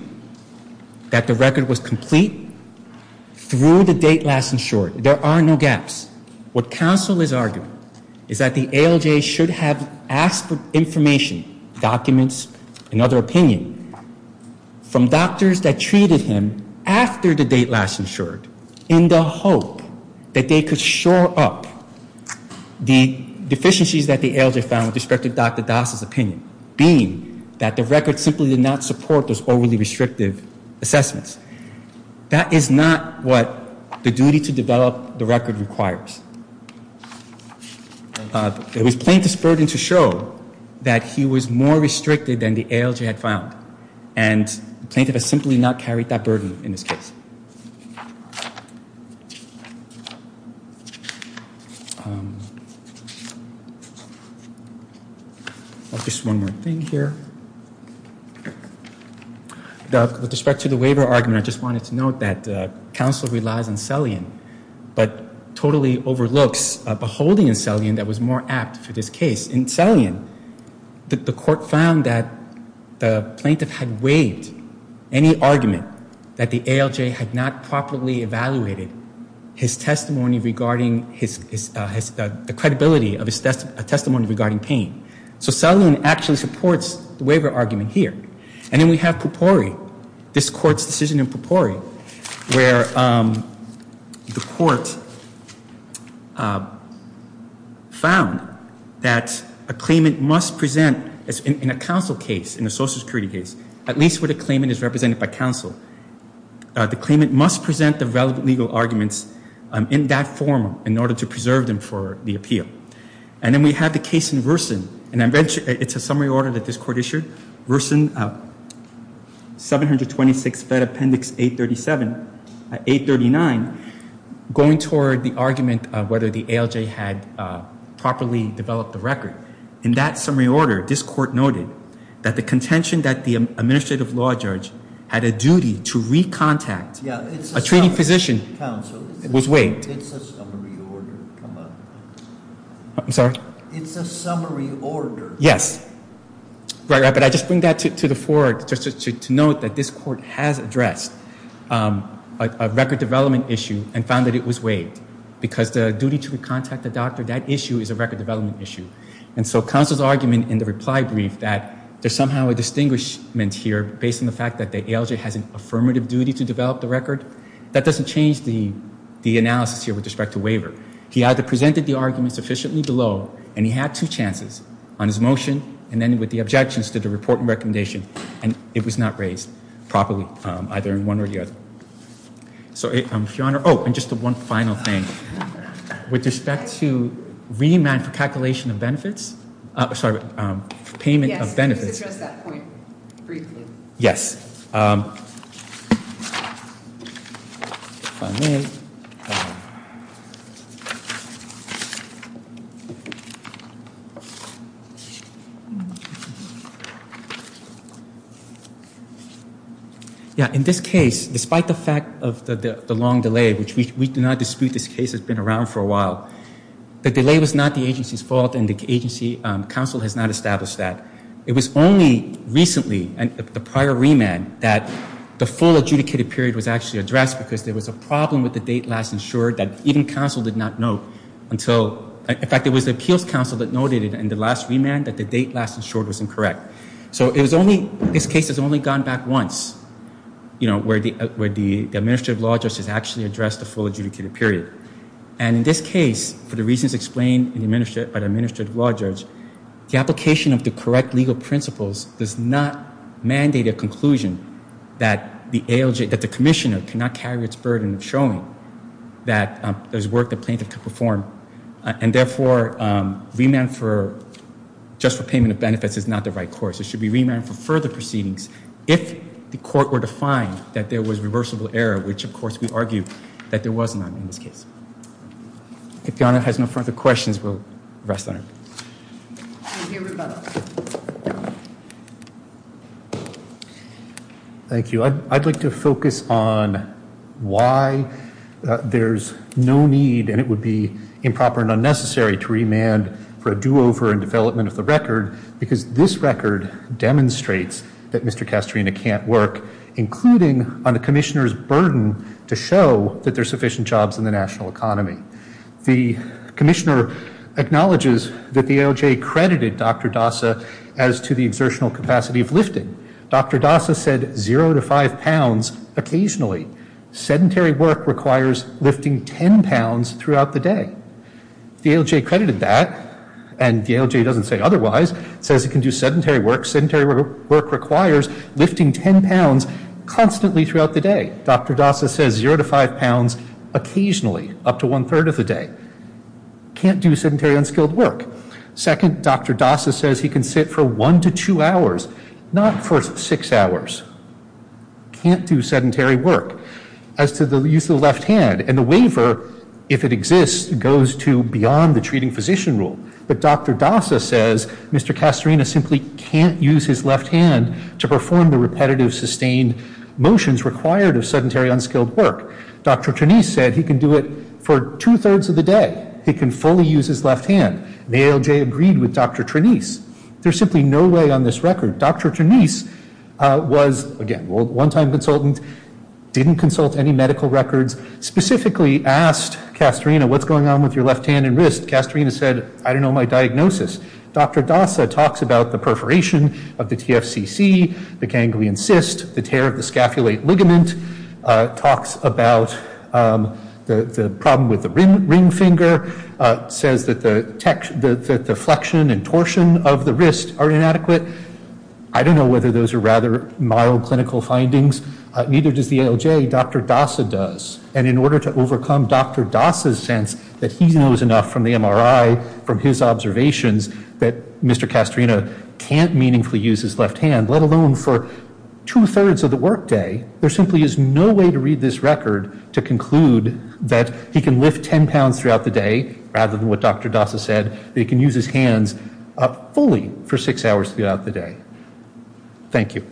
that the record was complete through the date last insured. There are no gaps. What counsel has argued is that the ALJ should have asked for information, documents, and other opinion from doctors that treated him after the date last insured, in the hope that they could shore up the deficiencies that the ALJ found with respect to Dr. Das' opinion, being that the record simply did not support those overly restrictive assessments. That is not what the duty to develop the record requires. It was plaintiff's burden to show that he was more restricted than the ALJ had found, and the plaintiff has simply not carried that burden in this case. Just one more thing here. With respect to the waiver argument, I just wanted to note that counsel relies on Selian, but totally overlooks a holding in Selian that was more apt to this case. In Selian, the court found that the plaintiff had waived any argument that the ALJ had not properly evaluated his testimony regarding the credibility of his testimony regarding pain. So Selian actually supports the waiver argument here. And then we have Pupori, this court's decision in Pupori, where the court found that a claimant must present in a counsel case, in a social security case, at least where the claimant is represented by counsel, the claimant must present the relevant legal arguments in that forum in order to preserve them for the appeal. And then we have the case in Wersen. It's a summary order that this court issued. Wersen, 726 Fed Appendix 839, going toward the argument of whether the ALJ had properly developed the record. In that summary order, this court noted that the contention that the administrative law judge had a duty to counsel was waived. It's a summary order. I'm sorry? It's a summary order. Yes. But I just bring that to the fore to note that this court has addressed a record development issue and found that it was waived. Because the duty to contact the doctor, that issue is a record development issue. And so counsel's argument in the reply brief that there's somehow a distinguishment here based on the fact that the ALJ has an affirmative duty to develop the record, that doesn't change the analysis here with respect to waiver. He either presented the argument sufficiently below and he had two chances on his motion and then with the objections to the report and recommendation, and it was not raised properly either in one or the other. So, Your Honor, oh, and just one final thing. With respect to remand for calculation of benefits, sorry, payment of benefits. Yes. Yeah, in this case, despite the fact of the long delay, which we do not dispute this case has been around for a while, the delay was not the agency's fault and the agency counsel has not established that. It was only recently, the prior remand, that the full adjudicated period was actually addressed because there was a problem with the date last insured that even counsel did not note until, in fact, it was the appeals counsel that noted in the last remand that the date last insured was incorrect. So it was only, this case has only gone back once, you know, where the administrative law judge has actually addressed the full adjudicated period. And in this case, for the reasons explained by the administrative law judge, the application of the correct legal principles does not mandate a conclusion that the ALJ, that the commissioner cannot carry its burden showing that there's work the plaintiff could perform. And therefore, remand for just the payment of benefits is not the right course. It should be remand for further proceedings if the court were to find that there was reversible error, which of course we argue that there was none in this case. If Donna has no further questions, we'll rest on it. Thank you. I'd like to focus on why there's no need and it would be improper and unnecessary to remand for a do-over and development of the record because this record demonstrates that Mr. Dobson's remand does not include a remand for a do-over, including on a commissioner's burden to show that there's sufficient jobs in the national economy. The commissioner acknowledges that the ALJ credited Dr. Dasa as to the exertional capacity of lifting. Dr. Dasa said zero to five pounds occasionally. Sedentary work requires lifting 10 pounds throughout the day. The ALJ credited that and the ALJ doesn't say otherwise, says he can do sedentary work. Sedentary work requires lifting 10 pounds constantly throughout the day. Dr. Dasa says zero to five pounds occasionally, up to one-third of the day. Can't do sedentary unskilled work. Second, Dr. Dasa says he can sit for one to two hours, not for six hours. Can't do sedentary work. As to the use of the left hand and the waiver, if it exists, goes to beyond the treating physician rule. But Dr. Dasa says Mr. Castorina simply can't use his left hand to perform the repetitive sustained motions required of sedentary unskilled work. Dr. Trenise said he can do it for two-thirds of the day. He can fully use his left hand. The ALJ agreed with Dr. Trenise. There's simply no way on this record. Dr. Trenise was, again, a one-time consultant, didn't consult any medical records, specifically asked Castorina what's going on with your left hand and wrist. Castorina said I don't know my diagnosis. Dr. Dasa talks about the perforation of the TFCC, the ganglion cyst, the tear of the scapulate ligament, talks about the problem with the ring finger, says that the deflection and torsion of the wrist are inadequate. I don't know whether those are rather mild clinical findings. Neither does the ALJ. Dr. Dasa does. And in order to overcome Dr. Dasa's sense that he knows enough from the MRI, from his observations, that Mr. Castorina can't meaningfully use his left hand, let alone for two-thirds of the workday, there simply is no way to read this record to conclude that he can lift 10 pounds throughout the day, rather than what Dr. Dasa said, that he can use his hands up fully for six hours throughout the day. Thank you.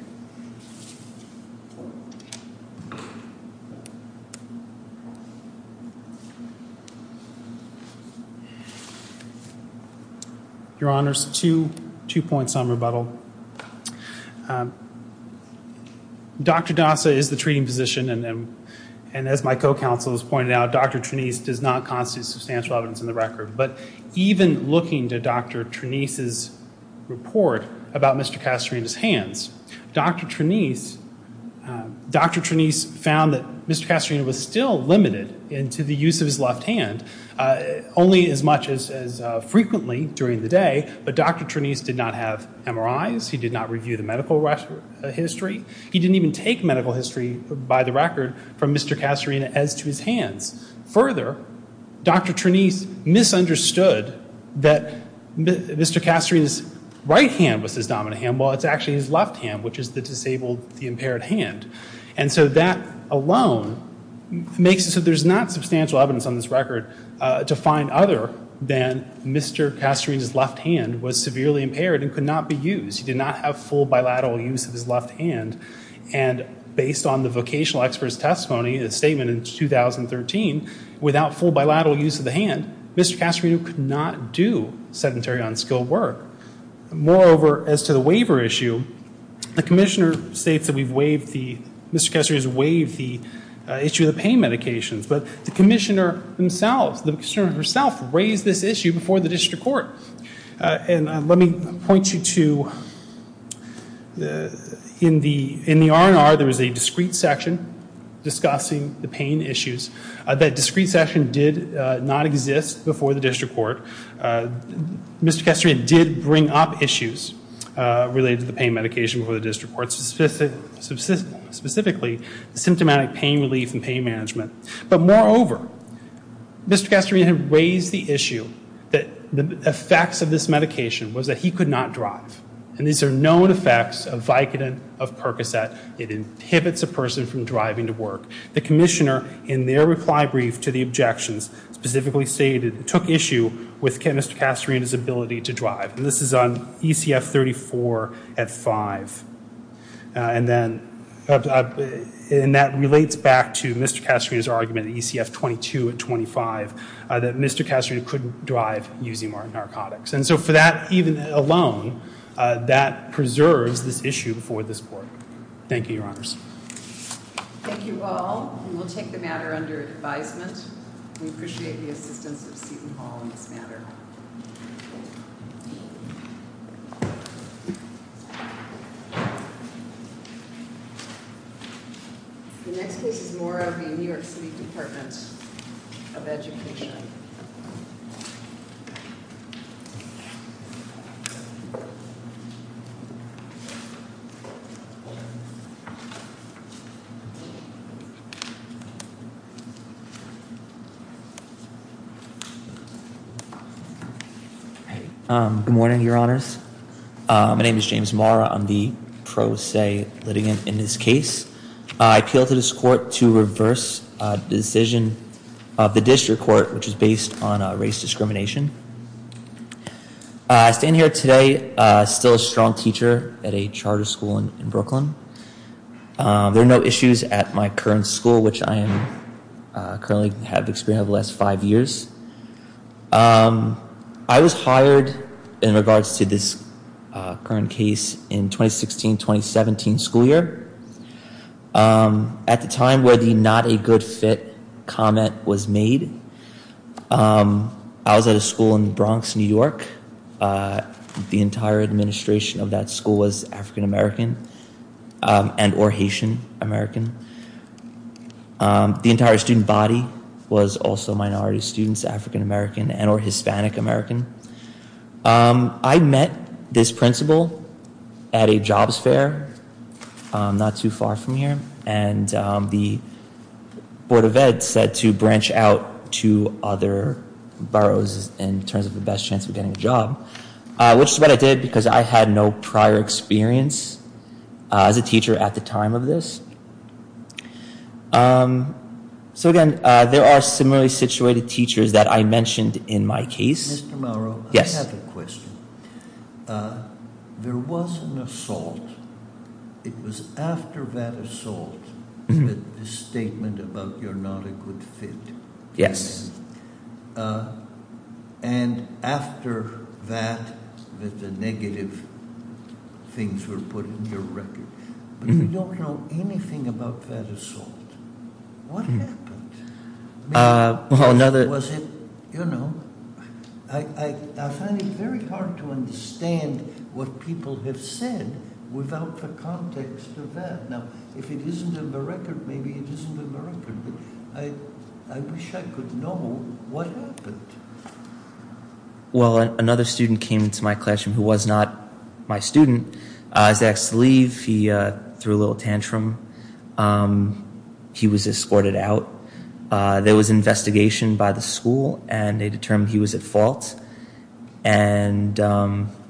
Your Honors, two points on rebuttal. Dr. Dasa is the treating physician, and as my co-counsel has pointed out, Dr. Trenise does not constitute substantial evidence in the record. But even looking to Dr. Trenise's report about Mr. Castorina's hands, Dr. Trenise found that Mr. Castorina was still limited into the use of his left hand, only as much as frequently during the day. But Dr. Trenise did not have MRIs. He did not review the medical history. He didn't even take medical history by the record from Mr. Castorina as to his hands. Further, Dr. Trenise misunderstood that Mr. Castorina's right hand was his dominant hand, while it's actually his left hand, which is the disabled, the impaired hand. And so that alone makes it so there's not substantial evidence on this record to find other than Mr. Castorina's left hand was severely impaired and could not be used. He did not have full bilateral use of his left hand. And based on the vocational expert's testimony, the statement in 2013, without full bilateral use of the hand, Mr. Castorina could not do sedentary unskilled work. Moreover, as to the waiver issue, the commissioner states that we've waived the, Mr. Castorina's waived the issue of the pain medications. But the commissioner himself, the commissioner herself raised this issue before the district court. And let me point you to, in the, in the R&R, there was a discrete section discussing the pain issues. That discrete section did not exist before the district court. Mr. Castorina did bring up issues related to the pain medication before the district court, specifically symptomatic pain relief and pain management. But moreover, Mr. Castorina has the issue that the effects of this medication was that he could not drive. And these are known effects of Vicodin, of Percocet. It inhibits a person from driving to work. The commissioner, in their reply brief to the objections, specifically stated, took issue with Mr. Castorina's ability to drive. And this is on ECF 34 at five. And then, and that relates back to Mr. Castorina couldn't drive using R&R products. And so for that, even alone, that preserves this issue before the court. Thank you, your honors. Thank you all. And we'll take the matter under advisement. We appreciate the assistance of you all in this matter. Hey, good morning, your honors. My name is James Mara. I'm the pro se litigant in this case. I appeal to this court to reverse the decision of the district court, which is based on race discrimination. I stand here today, still a strong teacher at a charter school in Brooklyn. There are no issues at my current school, which I am currently have experienced the last five years. I was hired in regards to this current case in 2016, 2017 school year. At the time where the not a good fit comment was made, I was at a school in the Bronx, New York. The entire administration of that school was African American and or Haitian American. The entire student body was also minority students, African American and or Hispanic American. I met this principal at a jobs fair not too far from here. And the board of ed said to branch out to other boroughs in terms of the best chance of getting a job, which is what I did because I had no prior experience as a teacher at the time of this. So again, there are similarly situated teachers that I mentioned in my case. Mr. Mara, I have a question. There was an assault. It was things were put in your record. You don't know anything about that assault. What happened? You know, I find it very hard to understand what people have said without the context of that. Now, if it isn't in the record, maybe it isn't in the record. I wish I could know what happened. Well, another student came into my classroom who was not my student. I asked to leave. He threw a little tantrum. He was escorted out. There was investigation by the school and they determined he was at fault. And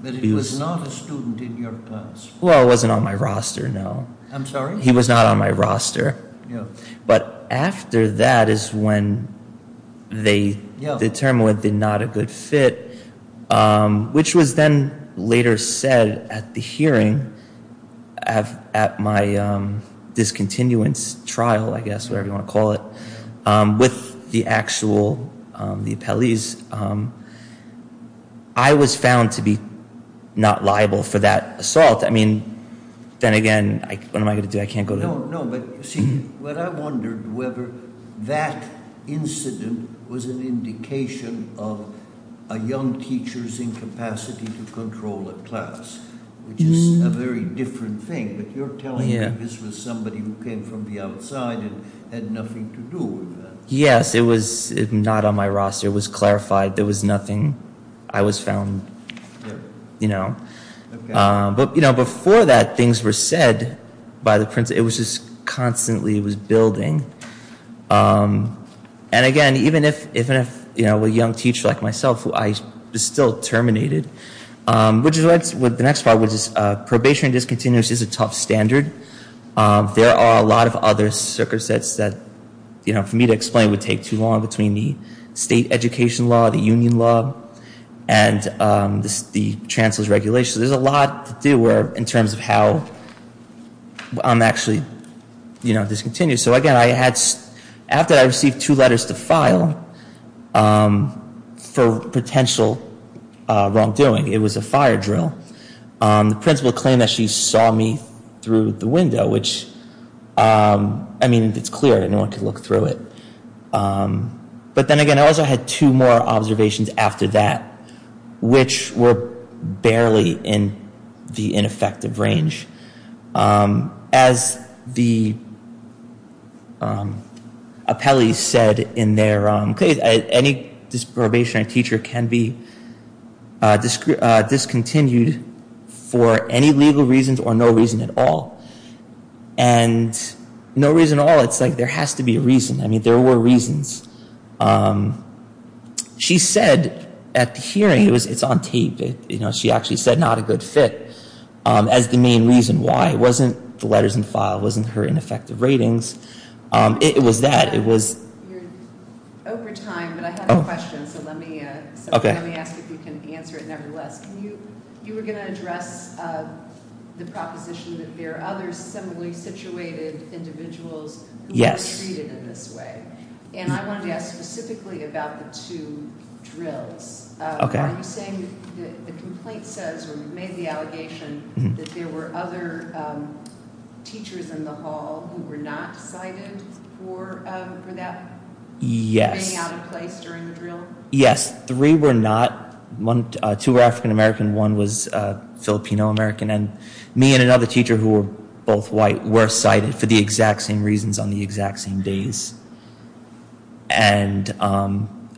he was not a student in your class. Well, I wasn't on my roster. No, I'm sorry. He was not on my roster. But after that is when they determined he was not a good fit, which was then later said at the hearing, at my discontinuance trial, I guess, whatever you want to call it, with the actual police. I was found to be not liable for that assault. I mean, then again, what am I going to do? I can't go there. No, no. But see, what I wondered whether that incident was an indication of a young teacher's incapacity to control a class, which is a very different thing. But you're telling me this was somebody who came from the outside and had nothing to do with that. Yes, it was not on my roster. It was clarified. There was nothing. I was found. But before that, things were said by the principal. It was just constantly building. And again, even if a young teacher like myself, who I still terminated, which is what the next part was, probation discontinuous is a tough standard. There are a lot of other circumstances that for me to explain would take too long between the education law, the union law, and the chancellor's regulations. There's a lot to do in terms of how I'm actually, you know, discontinued. So again, after I received two letters to file for potential wrongdoing, it was a fire drill. The principal claimed that she saw me through the window, which, I mean, it's clear that no one could look through it. But then again, I also had two more observations after that, which were barely in the ineffective range. As the appellee said in their case, any disprobation on a teacher can be discontinued for any legal reasons or no reason at all. And no reason at all. It's like there has to be a reason. I mean, there were reasons. She said at the hearing, it's on tape, you know, she actually said not a good fit as the main reason why. It wasn't the letters in the file. It wasn't her ineffective ratings. It was that. It was... ...situated individuals who were treated in this way. And I wanted to ask specifically about the two drills. I'm saying that the complaint says, or maybe the allegation, that there were other teachers in the hall who were not cited for that. Yes. Three were not. Two were African-American, one was Filipino-American. And me and another teacher who were both white were cited for the exact same reasons on the exact same days. And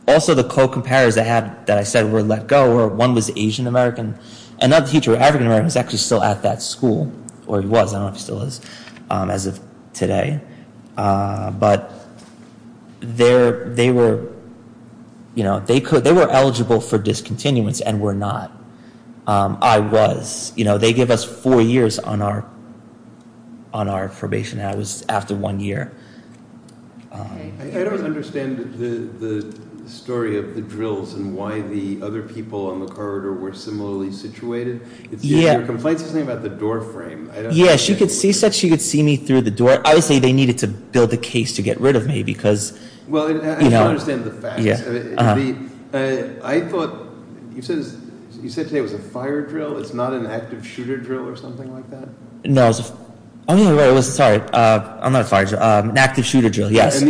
also the co-comparators that I said were let go, one was Asian-American, another teacher was African-American who was actually still at that school, or was, I don't know if he still is, as of today. But they were eligible for discontinuance and were not. I was. You know, they gave us four years on our probation. That was after one year. I don't understand the story of the drills and why the other people on the corridor were similarly situated. The complaint doesn't say anything about the doorframe. Yes, she said she could see me through the door. I would say they needed to build a case to get rid of me because... Well, I don't understand the fact. Yes. I thought you said there was a fire drill, it's not an active shooter drill or something like that? No. I'm not a fire drill. An active shooter drill, yes.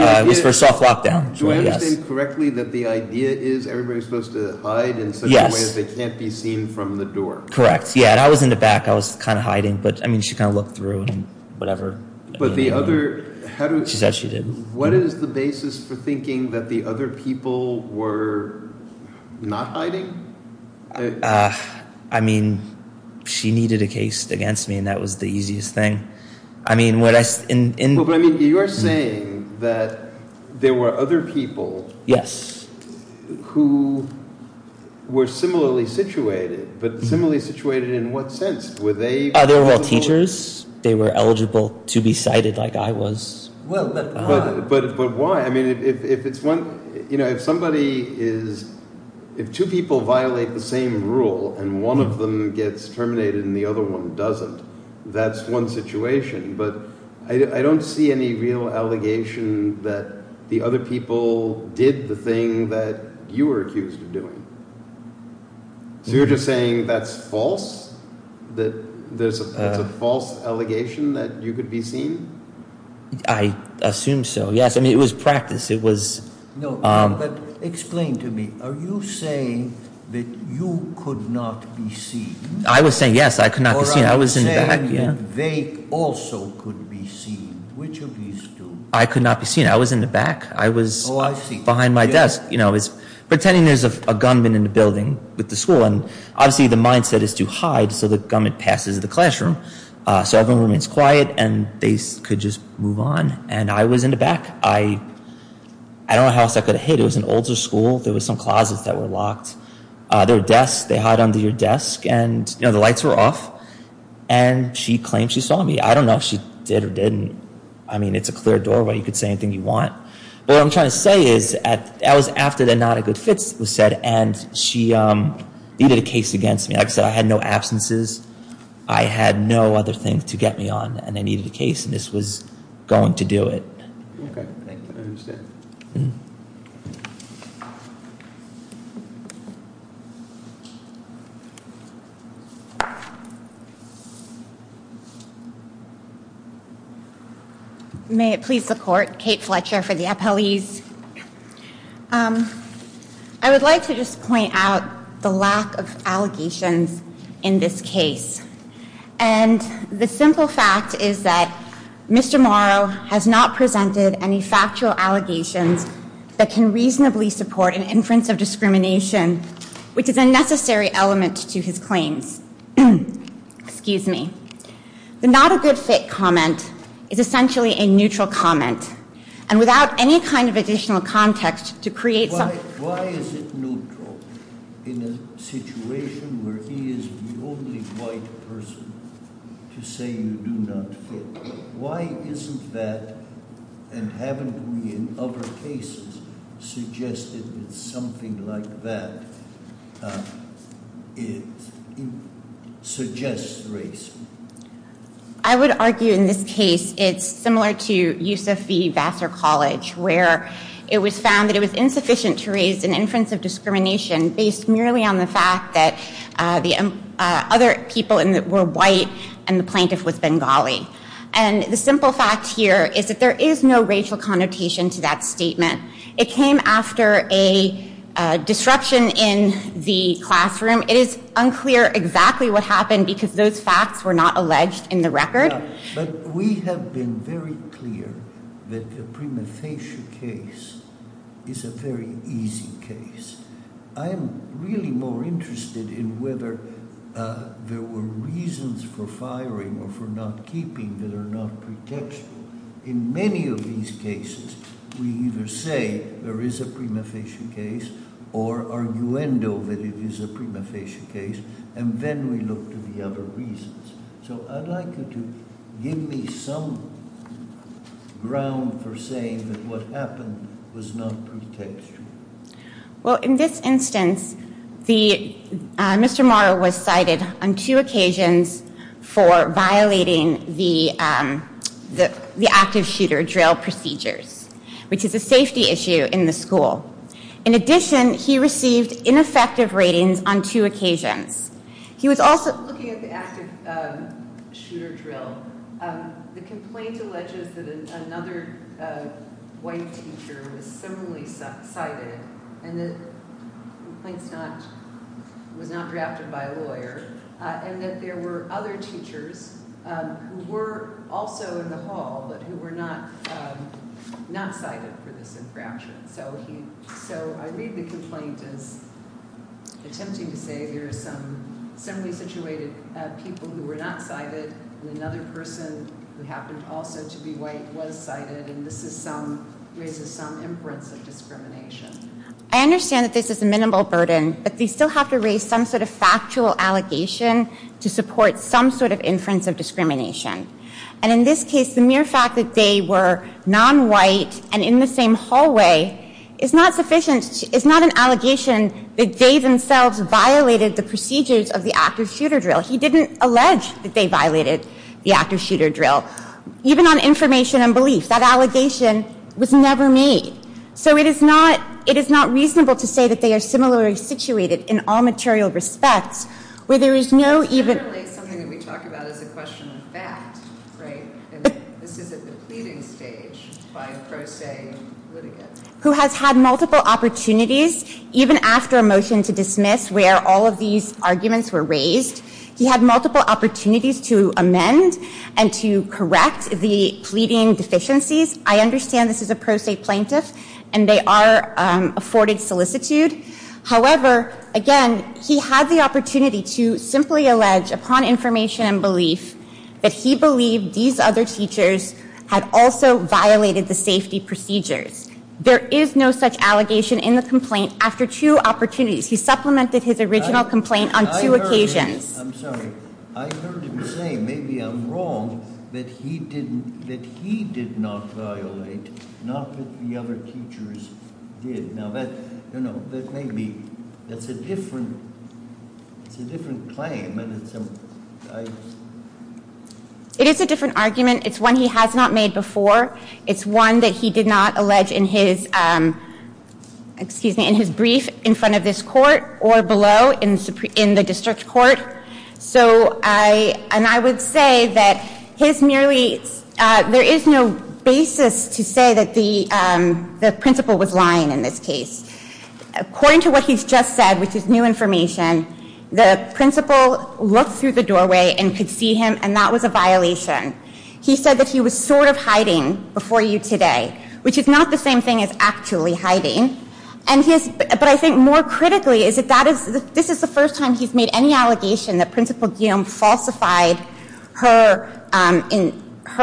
For soft lockdown. Do I understand correctly that the idea is everybody's supposed to hide in such a way that they can't be seen from the door? Correct. Yeah, and I was in the back, I was kind of hiding, but I mean, she kind of looked through and whatever. But the other... She said she didn't. What is the basis for thinking that the other people were not hiding? I mean, she needed a case against me and that was the easiest thing. I mean, what I... Well, but I mean, you're saying that there were other people... Yes. Who were similarly situated, but similarly situated in what sense? Were they... They were all teachers? They were eligible to be cited like I was? Well, but... But why? I mean, if it's one... You know, if somebody is... If two people violate the same rule and one of them gets terminated and the other one doesn't, that's one situation, but I don't see any real allegation that the other people did the thing that you were accused of that there's a false allegation that you could be seen? I assume so, yes. I mean, it was practice. It was... No, but explain to me. Are you saying that you could not be seen? I was saying, yes, I could not be seen. I was in the back, yeah. They also could be seen. Which of these two? I could not be seen. I was in the back. I was... Oh, I see. Behind my desk, you know, it's... Pretending there's a gunman in the building with the school and obviously the mindset is to hide so the gunman passes the classroom. So everyone remains quiet and they could just move on. And I was in the back. I... I don't know how stuff got hit. It was an older school. There was some closets that were locked. Their desk, they hide under your desk and, you know, the lights were off and she claimed she saw me. I don't know if she did or didn't. I mean, it's a clear doorway. You could say anything you want. What I'm trying to say is that was after the not a good fit was set and she, um, needed a case against me. I said I had no absences. I had no other thing to get me on and I needed a case and this was going to do it. Okay. I understand. May it please the court. Kate Fletcher for the appellees. Um, I would like to just point out the lack of allegations in this case. And the simple fact is that Mr. Morrow has not presented any factual allegations that can reasonably support an inference of discrimination, which is a necessary element to his claim. Excuse me. The not a good fit comment is essentially a neutral comment. And without any kind of additional context to create... Why is it neutral in a situation where he is the only white person to say you do not vote? Why isn't that, and haven't we in other cases suggested something like that, suggest racism? I would argue in this case, it's similar to use of the Vassar College, where it was found that it was insufficient to raise an inference of discrimination based merely on the fact that the other people were white and the plaintiff was Bengali. And the simple fact here is that there is no racial connotation to that statement. It came after a disruption in the classroom. It is unclear exactly what happened because those facts were not alleged in the record. But we have been very clear that the prima facie case is a very easy case. I am really more interested in whether there were reasons for firing or for not keeping that are not protected. In many of these cases, we either say there is a prima facie case or arguendo that it is a prima facie case, and then we look to the other reasons. So I'd like you to give me some ground for saying that what happened was not protected. Well, in this instance, Mr. Morrow was cited on two occasions for violating the active shooter procedures, which is a safety issue in the school. In addition, he received ineffective ratings on two occasions. He was also looking at the active shooter drill. The complaint alleges that another white teacher was similarly cited, and the complaint was not drafted by a lawyer, and that there were other teachers who were also in the hall, but who were not cited for this infraction. So I read the complaint as attempting to say there are some similarly situated people who were not cited, and another person who happened also to be white was cited, and this raises some inference of discrimination. I understand that this is a minimal burden, but we still have to raise some sort of factual allegation to support some sort of inference of discrimination, and in this case, the mere fact that they were nonwhite and in the same hallway is not sufficient. It's not an allegation that they themselves violated the procedures of the active shooter drill. He didn't allege that they violated the active shooter drill, even on information and belief. That allegation was never made, so it is not reasonable to say that they are similarly situated in all material respects, where there is no even... Who has had multiple opportunities, even after a motion to dismiss, where all of these arguments were raised, he had multiple opportunities to amend and to correct the pleading deficiencies. I understand this is a pro se plaintiff, and they are afforded solicitude. However, again, he had the opportunity to simply allege upon information and belief that he believed these other features had also violated the safety procedures. There is no such allegation in the complaint after two opportunities. He supplemented his original complaint on two occasions. It is a different argument. It's one he has not made before. It's one that he did not allege in his brief in front of this court or below in the district court. I would say that there is no basis to say that the principal was lying in this case. According to what he has just said, which is new information, the principal looked through the doorway and could see him, and that was a violation. He said that he was sort of hiding before you today, which is not the same thing as actually hiding. I think more critically, this is the first time he has made any allegation that the principal falsified her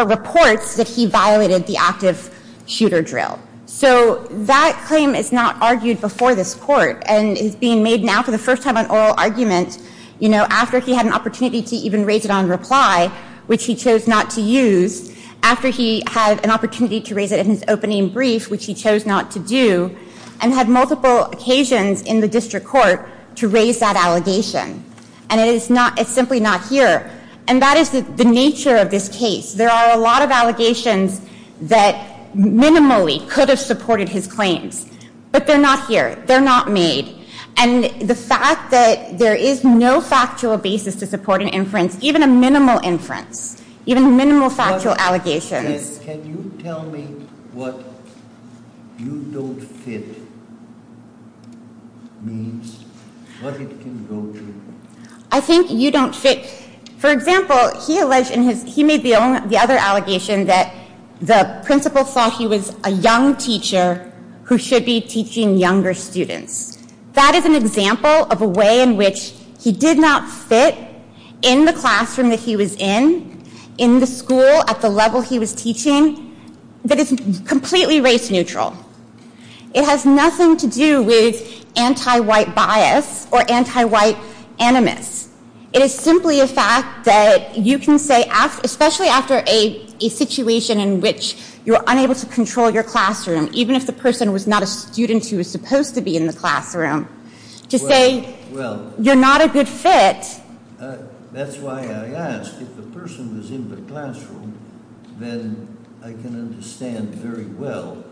report that he violated the active shooter drill. That claim is not argued before this court and is being made now for the first time on oral arguments after he had an opportunity to even raise it on reply, which he chose not to use, after he had an opportunity to raise it in his opening brief, which he chose not to do, and had multiple occasions in the district court to raise that allegation. It is simply not here. That is the nature of this case. There are a lot of allegations that minimally could have supported his claims, but they are not here. They are not made. The fact that there is no factual basis to support an inference, even a minimal inference, even a minimal factual allegation... Can you tell me what you don't fit means? What it can go to? I think you don't fit. For example, he alleged, and he made the other allegation, that the principal thought he was a young teacher who should be teaching younger students. That is an example of a way in which he did not fit in the classroom that he was in, in the school at the time he was teaching, that is completely race neutral. It has nothing to do with anti-white bias or anti-white animus. It is simply a fact that you can say, especially after a situation in which you're unable to control your classroom, even if the person was not a student who was supposed to be in the classroom, to say you're not a good fit... That's why I ask, if the person was in the classroom, I can understand very well.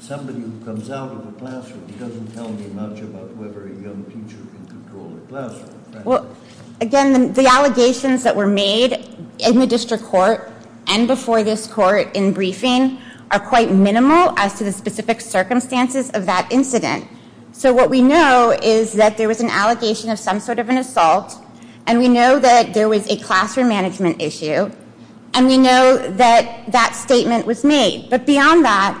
Somebody who comes out of the classroom, he doesn't tell me much about whether a young teacher can control the classroom. Well, again, the allegations that were made in the district court and before this court in briefing are quite minimal as to the specific circumstances of that incident. So what we know is that there was an allegation of some sort of an assault, and we know that there was a classroom management issue, and we know that that statement was made. But beyond that,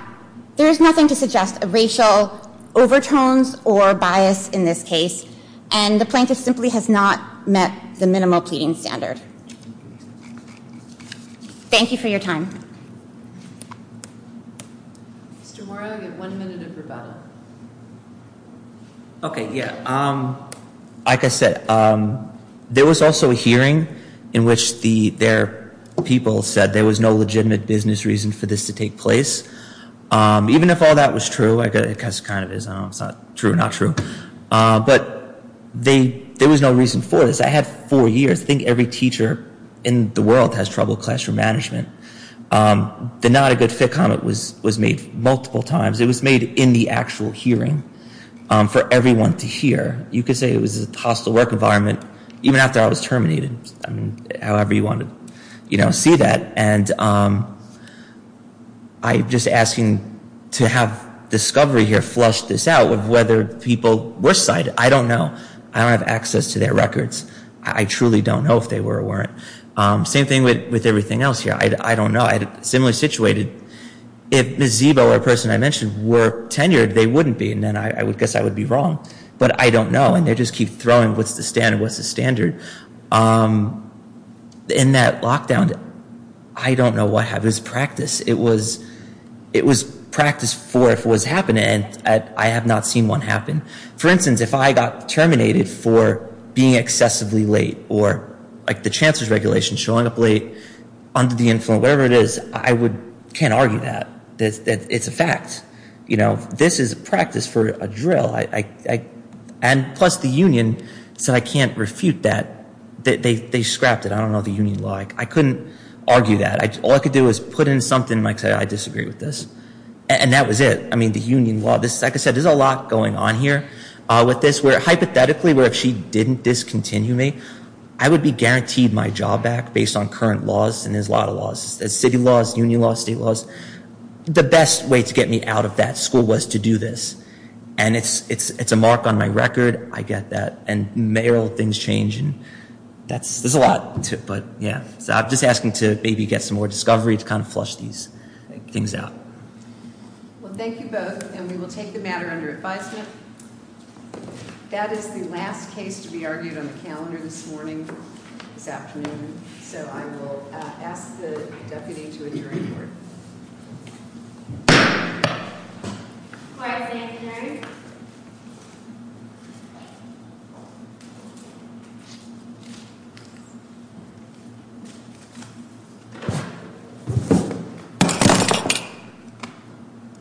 there is nothing to suggest a racial overtones or bias in this case, and the plaintiff simply has not met the minimal pleading standards. Thank you for your time. Tomorrow we have one minute of rebuttal. Okay, yeah. Like I said, there was also a hearing in which their people said there was no business reason for this to take place. Even if all that was true, I guess it kind of is true or not true, but there was no reason for this. I had four years. I think every teacher in the world has trouble with classroom management. The not a good fit comment was made multiple times. It was made in the actual hearing for everyone to hear. You could say it was a hostile work environment, even after I was terminated, however you want to see that. I'm just asking to have discovery here flush this out of whether people were spied. I don't know. I don't have access to their records. I truly don't know if they were or weren't. Same thing with everything else here. I don't know. I had a similar situation. If Ms. Zeebo or a person I mentioned were tenured, they wouldn't be, and then I would guess I would be wrong. But I don't know, and they just keep throwing what's the standard. In that lockdown, I don't know what happened. It was practice. It was practice for what was happening, and I have not seen one happen. For instance, if I got terminated for being excessively late or the chancellor's regulation showing up late under the influence, whatever it is, I can't argue that. It's a fact. This is practice for a drill. And plus the union said I can't refute that. They scrapped it. I don't know the union law. I couldn't argue that. All I could do is put in something and say, I disagree with this. And that was it. The union law, like I said, there's a lot going on here. Hypothetically, were it she didn't discontinue me, I would be guaranteed my job back based on current laws, and there's a lot of laws. There's city laws, union laws, state laws. The best way to get me that school was to do this. And it's a mark on my record. I get that. And things change. There's a lot. I'm just asking to maybe get some more discovery to flush these things out. Well, thank you both. And we will take the matter under advisement. That is the last case to be argued on the calendar this morning, this afternoon. So I will ask the deputy to adjourn. Thank you.